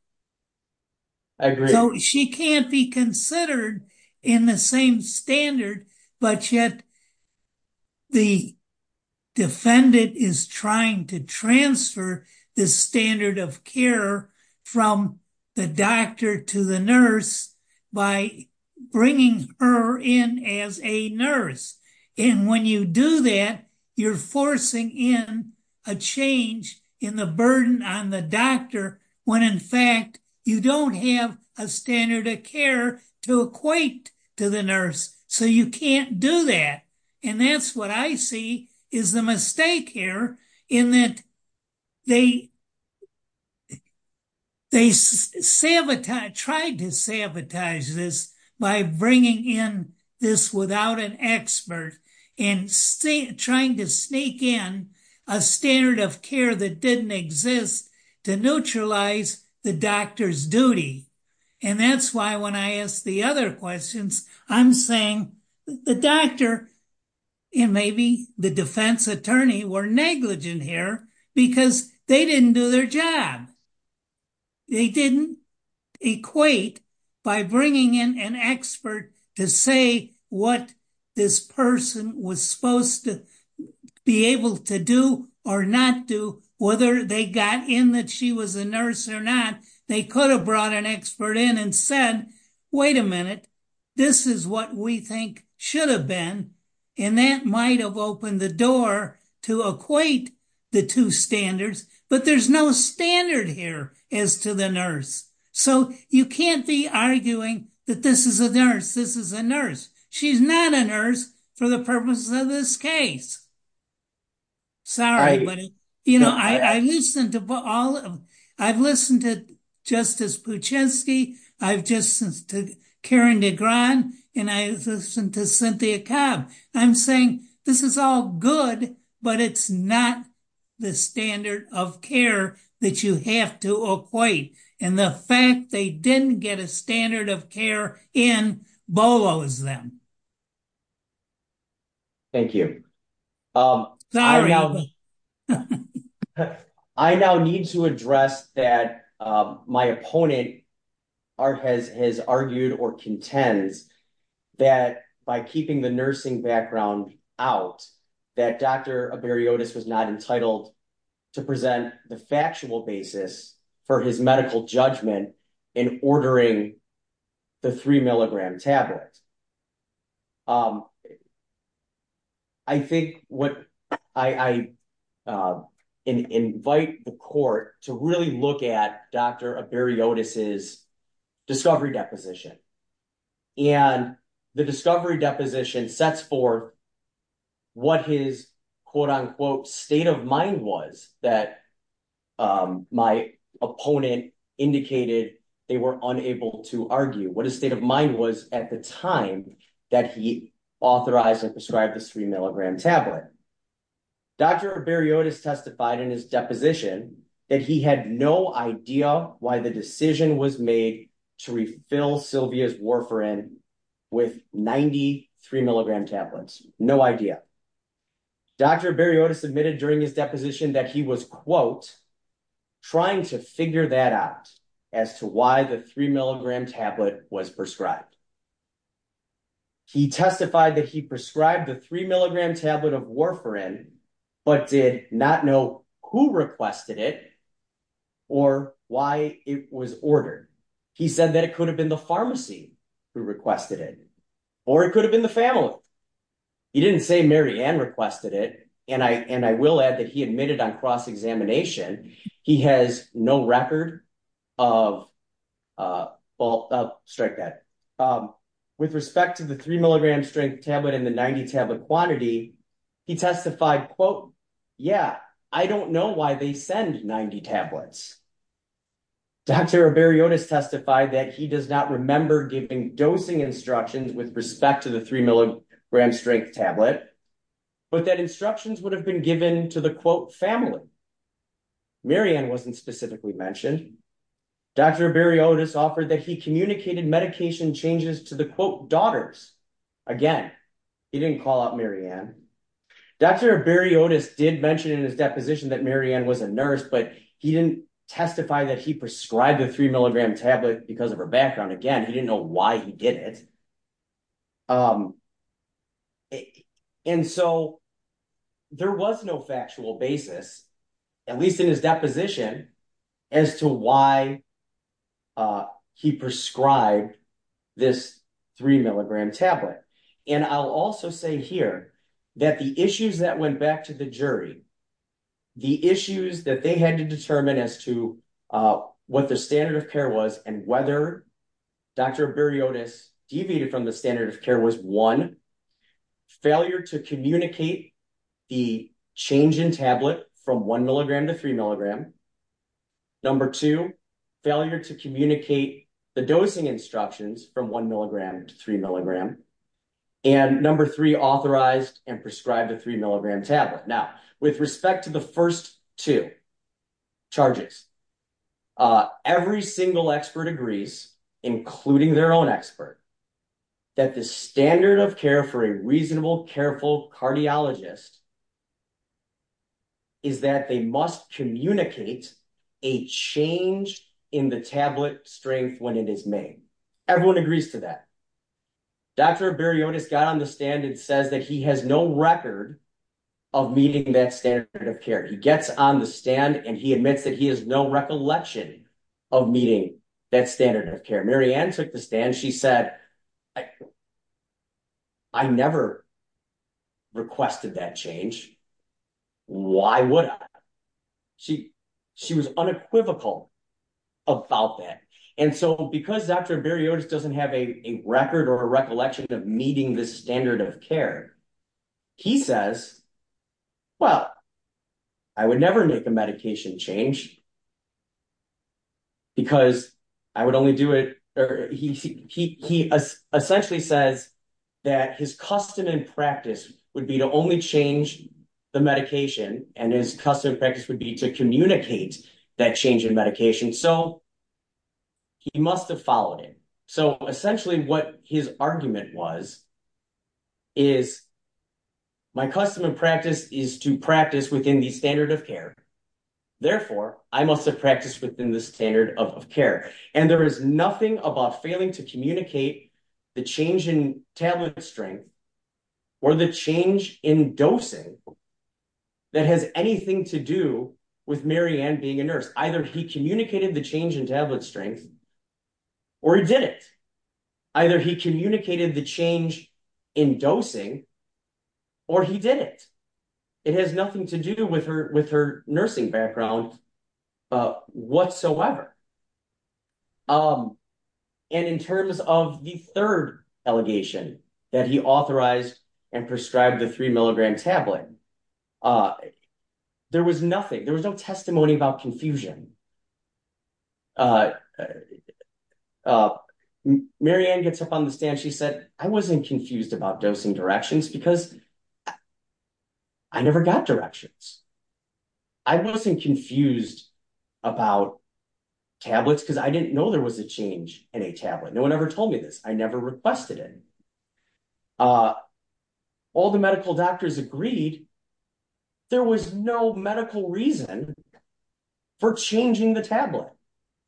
I agree. She can't be considered in the same standard, but yet the defendant is trying to transfer the standard of care from the doctor to the nurse by bringing her in as a nurse. And when you do that, you're forcing in a change in the burden on the doctor when in fact you don't have a standard of care to equate to the nurse. So you can't do that. And that's what I see is the mistake here in that they try to sabotage this by bringing in this without an expert and trying to sneak in a standard of care that didn't exist to neutralize the doctor's duty. And that's why when I ask the other questions, I'm saying the doctor and maybe the defense attorney were negligent here because they didn't do their job. They didn't equate by bringing in an expert to say what this person was supposed to be able to do or not do, whether they got in that she was a nurse or not. They could have brought an expert in and said, wait a minute, this is what we think should have been. And that might have opened the door to equate the two standards. But there's no standard here as to the nurse. So you can't be arguing that this is a nurse. This is a nurse. She's not a nurse for the purpose of this case. Sorry. You know, I listened to all of them. I've listened to Justice Puchinski. I've just listened to Karen DeGran and I listened to Cynthia Cobb. I'm saying this is all good, but it's not the standard of care that you have to equate. And the fact they didn't get a standard of care in this case is surprising to me. Sorry about that. I now need to address that. My opponent has argued or contends that by looking at the Averiotis for his medical judgment. I invite the court to really look at Dr. Averiotis' quote-unquote state of mind was that my opponent indicated they were unable to argue. What his state of mind was at the time that he authorized and prescribed the 3-milligram tablet. Dr. Averiotis testified in his deposition that he had no idea why the decision was made to refill Sylvia's warfarin with 93-milligram tablets. No idea. Dr. Averiotis admitted during his deposition that he was quote trying to figure that out as to why the 3-milligram tablet was prescribed. He testified that he prescribed the 3-milligram tablet of warfarin but did not know who requested it or why it was ordered. He said that it could have been the pharmacy who requested it or it could have been the family. He didn't say Mary Ann requested it and I will add that he admitted on cross-examination he has no record of with respect to the 3-milligram strength tablet and the 90 tablet quantity he testified quote yeah, I don't know why they send 90 tablets. Dr. Averiotis testified that he does not remember giving dosing instructions with respect to the 3-milligram strength tablet but that instructions would have been given to the quote family. Mary Ann wasn't specifically mentioned. Dr. Averiotis offered that he communicated medication changes to the quote daughters. Again, he didn't call out Mary Ann. Dr. Averiotis did mention in his deposition that Mary Ann was a nurse but he didn't testify that he prescribed the 3-milligram tablet because of her background. Again, he didn't know why he did it. And so there was no factual basis at least in his deposition as to why he prescribed this 3-milligram tablet. And I'll also say here that the issues that went back to the jury, the issues that they had to determine as to what the standard of care was and whether Dr. Averiotis deviated from the standard of care was one, failure to communicate the change in tablet from 1-milligram to 3-milligram. Number two, failure to communicate the dosing instructions from 1-milligram to 3-milligram. And number three, authorized and prescribed the 3-milligram tablet. Now, with respect to the first two charges, every single expert agrees, including their own expert, that the standard of care for a reasonable, careful cardiologist is that they must communicate a change in the tablet strength when it is made. Everyone agrees to that. Dr. Averiotis got on the stand and says that he has no record of meeting that standard of care. He gets on the stand and he admits that he has no recollection of meeting that standard of care. Mary Ann took the stand. She said, I never requested that change. Why would I? She was unequivocal about that. And so because Dr. Averiotis doesn't have a record or a recollection of meeting the standard of care, he says, well, I would never make the medication change because I would only do it. He essentially says that his custom and practice would be to only change the medication and his custom practice would be to communicate that change in medication. And so he must have followed it. So essentially what his argument was is my custom and practice is to practice within the standard of care. Therefore, I must have practiced within the standard of care. And there is nothing about failing to communicate the change in tablet strength or the change in dosing that has anything to do with Mary Ann being a nurse. Either he communicated the change in tablet strength or he didn't. Either he communicated the change in dosing or he didn't. It has nothing to do with her nursing background whatsoever. And in terms of the third allegation that he authorized and prescribed the three milligram tablet, there was nothing. There was no testimony about confusion. Mary Ann gets up on the stand. She said, I wasn't confused about dosing directions because I never got directions. I wasn't confused about tablets because I didn't know there was a change in a tablet. No one ever told me this. I never requested it. All the medical doctors agreed there was no medical reason for changing the tablet.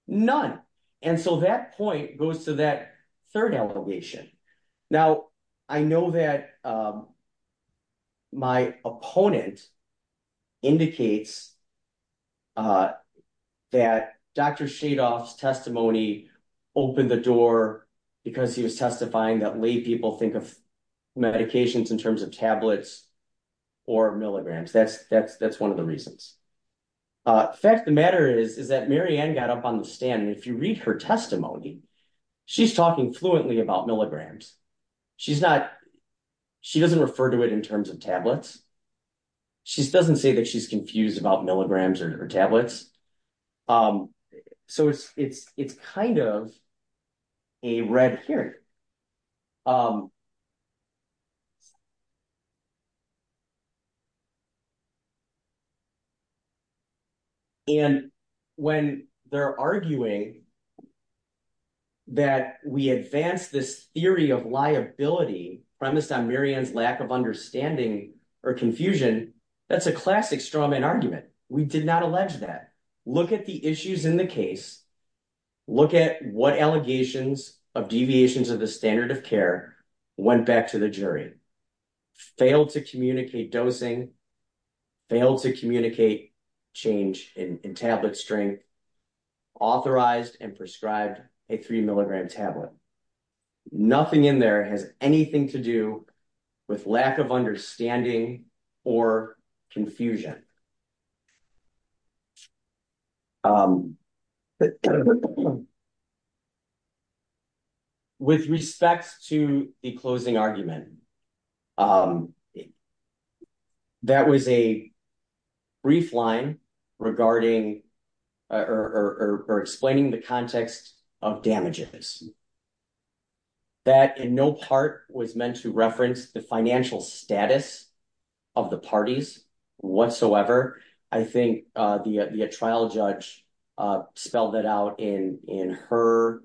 None. And so that point goes to that third allegation. Now, I know that my opponent indicates that Dr. Shadoff's testimony opened the door because he was testifying that made people think of medications in terms of tablets or milligrams. That's one of the reasons. The fact of the matter is that Mary Ann got up on the stand. And if you read her testimony, she's talking fluently about milligrams. She doesn't refer to it in terms of tablets. She doesn't say that she's confused about milligrams or her tablets. So it's kind of a red herring. And when they're arguing that we have liability from this on Mary Ann's lack of understanding or confusion, that's a classic straw man argument. We did not allege that. Look at the issues in the case. Look at what allegations of deviations of the standard of care went back to the jury. Failed to communicate dosing. Failed to communicate change in tablet strength. We did not allege or authorize and prescribe a three milligram tablet. Nothing in there has anything to do with lack of understanding or confusion. With respect to the closing argument, that was a brief line regarding or explaining the context of damages. That in no part was meant to reference the financial status of the parties whatsoever. I think the trial judge spelled that out in her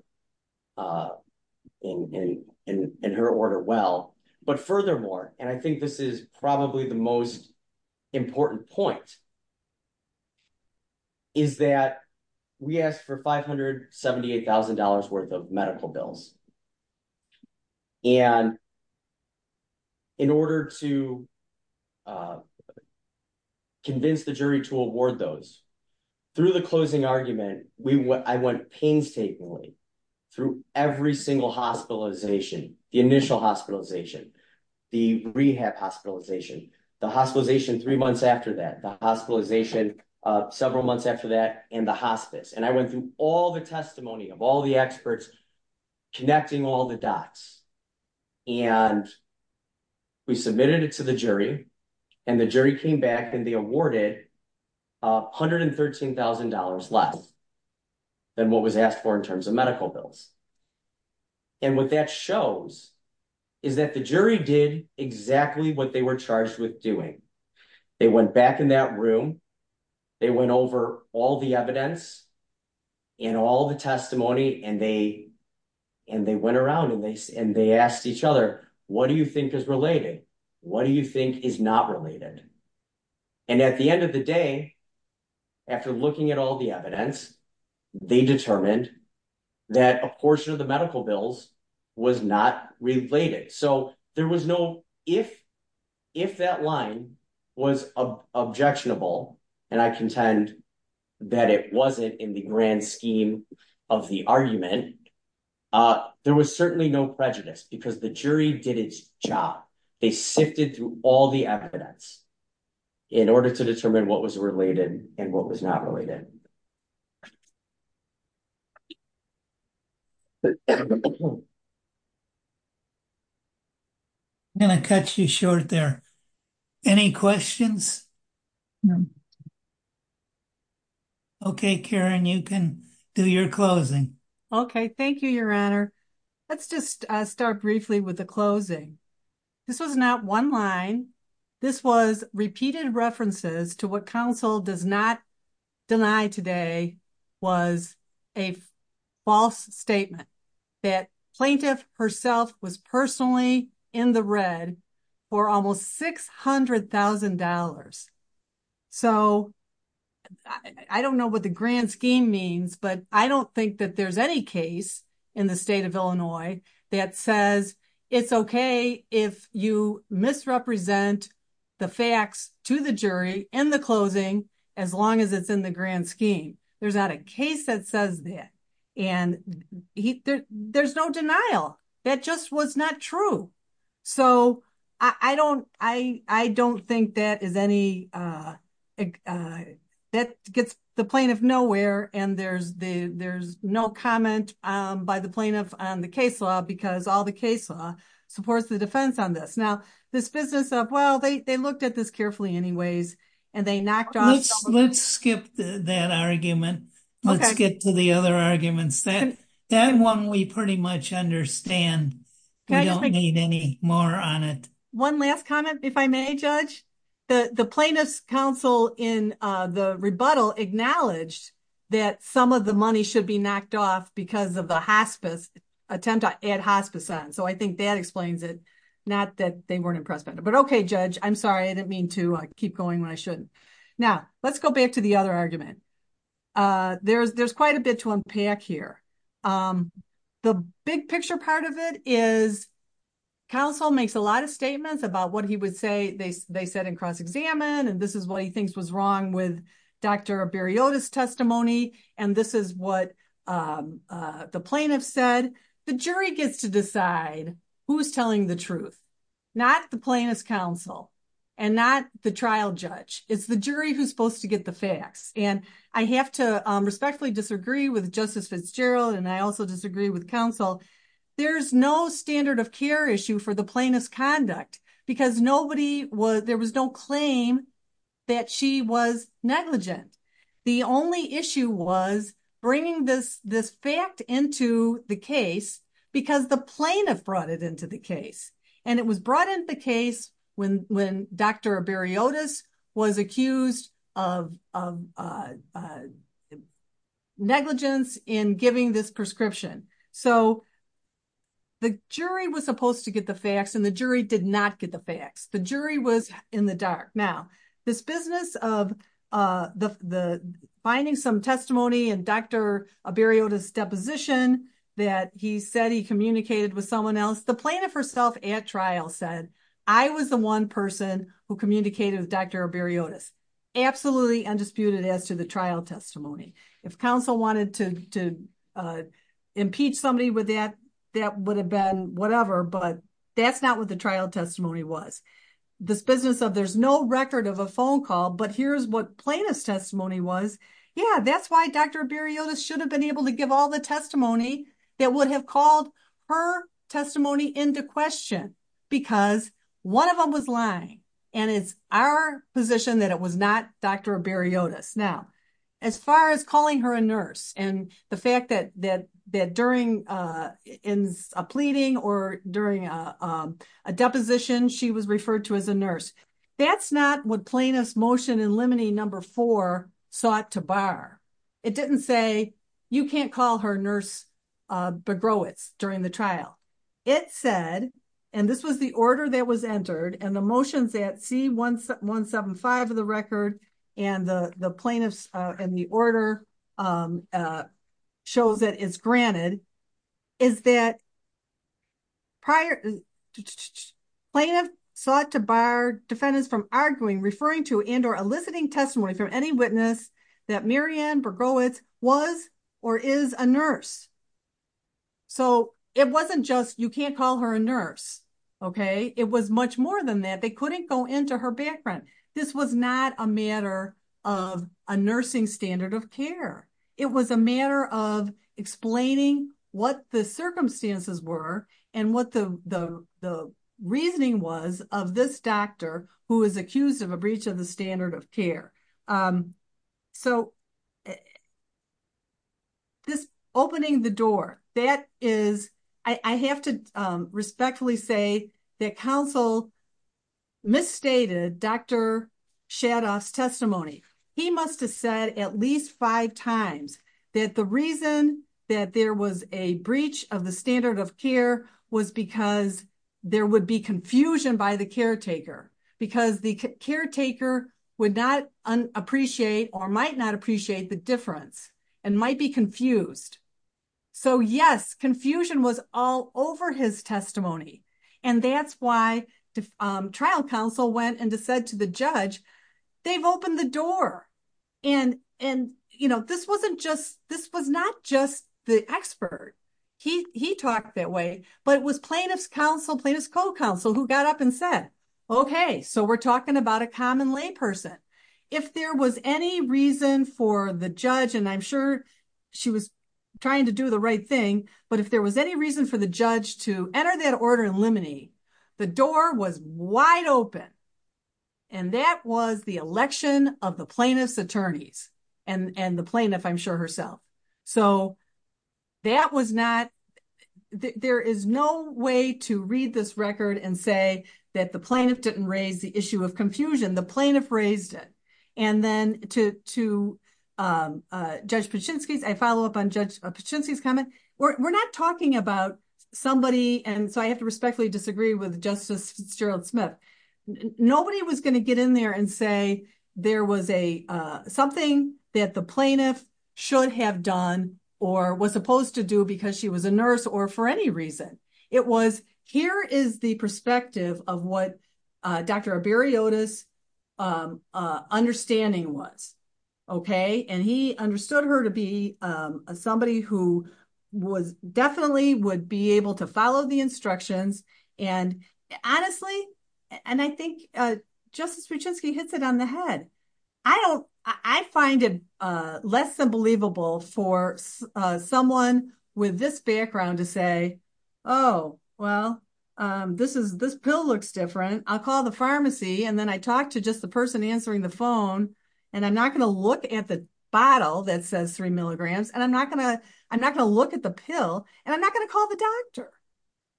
order well. But furthermore, and I think this is probably the most important point, is that we asked for $578,000 worth of medical bills. And in order to convince the jury to award those, through the closing argument, I went painstakingly through every single hospitalization, the initial hospitalization, the rehab hospitalization, the hospitalization three months after that, the hospitalization several months after that, and the hospice. And I went through all the testimony of all the experts connecting all the dots. And we submitted it to the jury. And the jury came back and they awarded $113,000 less than what was asked for in terms of medical bills. And what that shows is that the jury did exactly what they were charged with doing. They went back in that room. They went over all the evidence and all the testimony. And they went around and they asked each other, what do you think is related? What do you think is not related? And at the end of the day, after looking at all the evidence, they determined that a portion of the medical bills was not related. So there was no, if that line was objectionable, and I contend that it wasn't in the grand scheme of the argument, there was certainly no prejudice because the jury did its job. They sifted through all the evidence in order to determine what was related and what was not related. I'm going to cut you short there. Any questions? Okay, Karen, you can do your closing. Okay, thank you, Your Honor. Let's just start briefly with the closing. This was not one line. This was repeated references to what counsel does not deny today was a false statement that plaintiff herself was personally in the red for almost $600,000. So I don't know what the grand scheme means, but I don't think that there's any case in the state of Illinois that says it's okay if you misrepresent the facts to the jury in the closing as long as it's in the grand scheme. There's not a case that says that, and there's no denial. That just was not true. So I don't think that is any, that gets the plaintiff nowhere, and there's no comment by the plaintiff on the case law because all the case law supports the defense on this. Now, this business of, well, they looked at this carefully anyways, and they knocked off. Let's skip that argument. Let's get to the other arguments. That one we pretty much understand. We don't need any more on it. One last comment, if I may, Judge. The plaintiff's counsel in the rebuttal acknowledged that some of the money should be knocked off because of the attempt to add hospice on. So I think that explains it, not that they weren't impressed. But okay, Judge, I'm sorry. I didn't mean to. I keep going when I shouldn't. Now, let's go back to the other argument. There's quite a bit to unpack here. The big picture part of it is counsel makes a lot of statements about what he would say they said in cross-examination, and this is what he thinks was wrong with Dr. Berryota's testimony, and this is what the plaintiff said. The jury gets to decide who's telling the truth, not the plaintiff's counsel and not the trial judge. It's the jury who's supposed to get the facts. And I have to respectfully disagree with Justice Fitzgerald, and I also disagree with counsel. There's no standard of care issue for the plaintiff's conduct because there was no claim that she was negligent. The only issue was bringing this fact into the case because the plaintiff brought it into the case. And it was brought into the case when Dr. Berryota was accused of negligence in giving this prescription. So the jury was supposed to get the facts, and the jury did not get the facts. The jury was in the dark. Now, this business of finding some testimony in Dr. Berryota's deposition that he said he communicated with someone else, the plaintiff herself at trial said, I was the one person who communicated with Dr. Berryota. Absolutely undisputed as to the trial testimony. If counsel wanted to impeach somebody with that, that would have been whatever, but that's not what the trial testimony was. This business of there's no record of a phone call, but here's what plaintiff's testimony was. Yeah, that's why Dr. Berryota should have been able to give all the testimony that would have called her testimony into question because one of them was lying. And it's our position that it was not Dr. Berryota's. Now, as far as calling her a nurse and the fact that during a pleading or during a deposition, she was referred to as a nurse. That's not what plaintiff's motion in limine number four sought to bar. It didn't say, you can't call her nurse during the trial. It said, and this was the order that was entered and the motions at C175 of the record and the plaintiff and the order shows that it's granted is that prior plaintiff sought to bar defendants from arguing, referring to and or eliciting testimony from any witness that Mary Ann Bergois was or is a nurse. So it wasn't just you can't call her a nurse. Okay. It was much more than that. They couldn't go into her background. This was not a matter of a nursing standard of care. It was a matter of explaining what the circumstances were and what the reasoning was of this doctor who was accused of a breach of the standard of care. So just opening the door, that is, I have to respectfully say that counsel misstated Dr. Shadoff's testimony. He must have said at least five times that the reason that there was a breach of the standard of care was because there would be confusion by the caretaker because the caretaker would not appreciate or might not appreciate the difference and might be confused. So yes, confusion was all over his testimony. And that's why the trial counsel went and said to the judge, they've opened the door. And this wasn't just, this was not just the expert. He talked that way, but it was plaintiff's counsel, plaintiff's co-counsel who got up and said, okay, so we're talking about a common lay person. If there was any reason for the judge, and I'm sure she was trying to do the right thing, but if there was any reason for the judge to enter that order in limine, the door was open for the election of the plaintiff's attorney and the plaintiff, I'm sure herself. So that was not, there is no way to read this record and say that the plaintiff didn't raise the issue of confusion. The plaintiff raised it. And then to Judge Paczynski, I follow up on Judge Paczynski's comment. We're not talking about somebody, and so I have to respectfully disagree with Justice Gerald Smith. Nobody was going to get in there and say there was something that the plaintiff should have done or was supposed to do because she was a nurse or for any reason. It was, here is the perspective of what Dr. Arbariotis understanding was. And he understood her to be somebody who definitely would be able to follow the instructions. And honestly, and I think Justice Swieczewski hits it on the head. I find it less unbelievable for someone with this background to say, oh, well, this pill looks different. I'll call the pharmacy. And then I talk to just the person answering the phone. And I'm not going to look at the bottle that says three milligrams. And I'm not going to look at the pill. And I'm not going to call the doctor.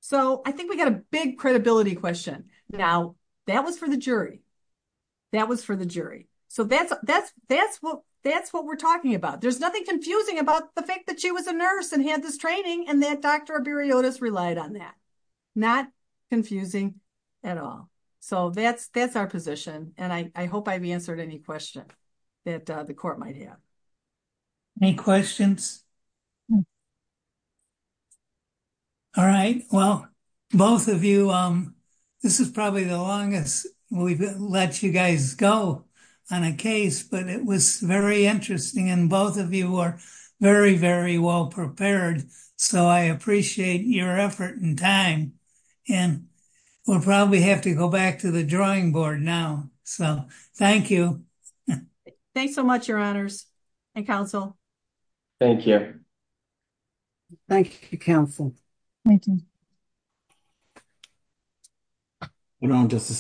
So I think we've got a big credibility question. Now, that was for the jury. That was for the jury. So that's what we're talking about. There's nothing confusing about the fact that she was a nurse and had this training and that Dr. Arbariotis relied on that. Not confusing at all. So that's our position. And I hope I've answered any questions that the court might have. Any questions? All right. Well, both of you, this is probably the longest we've let you guys go on a case. But it was very interesting. And both of you were very, very well prepared. So I appreciate your effort and time. And we'll probably have to go back to the drawing board now. So thank you. Thanks so much, Your Honors. Hey, Counsel. Thank you. Thank you, Counsel. Thank you. Good on, Justice Smith.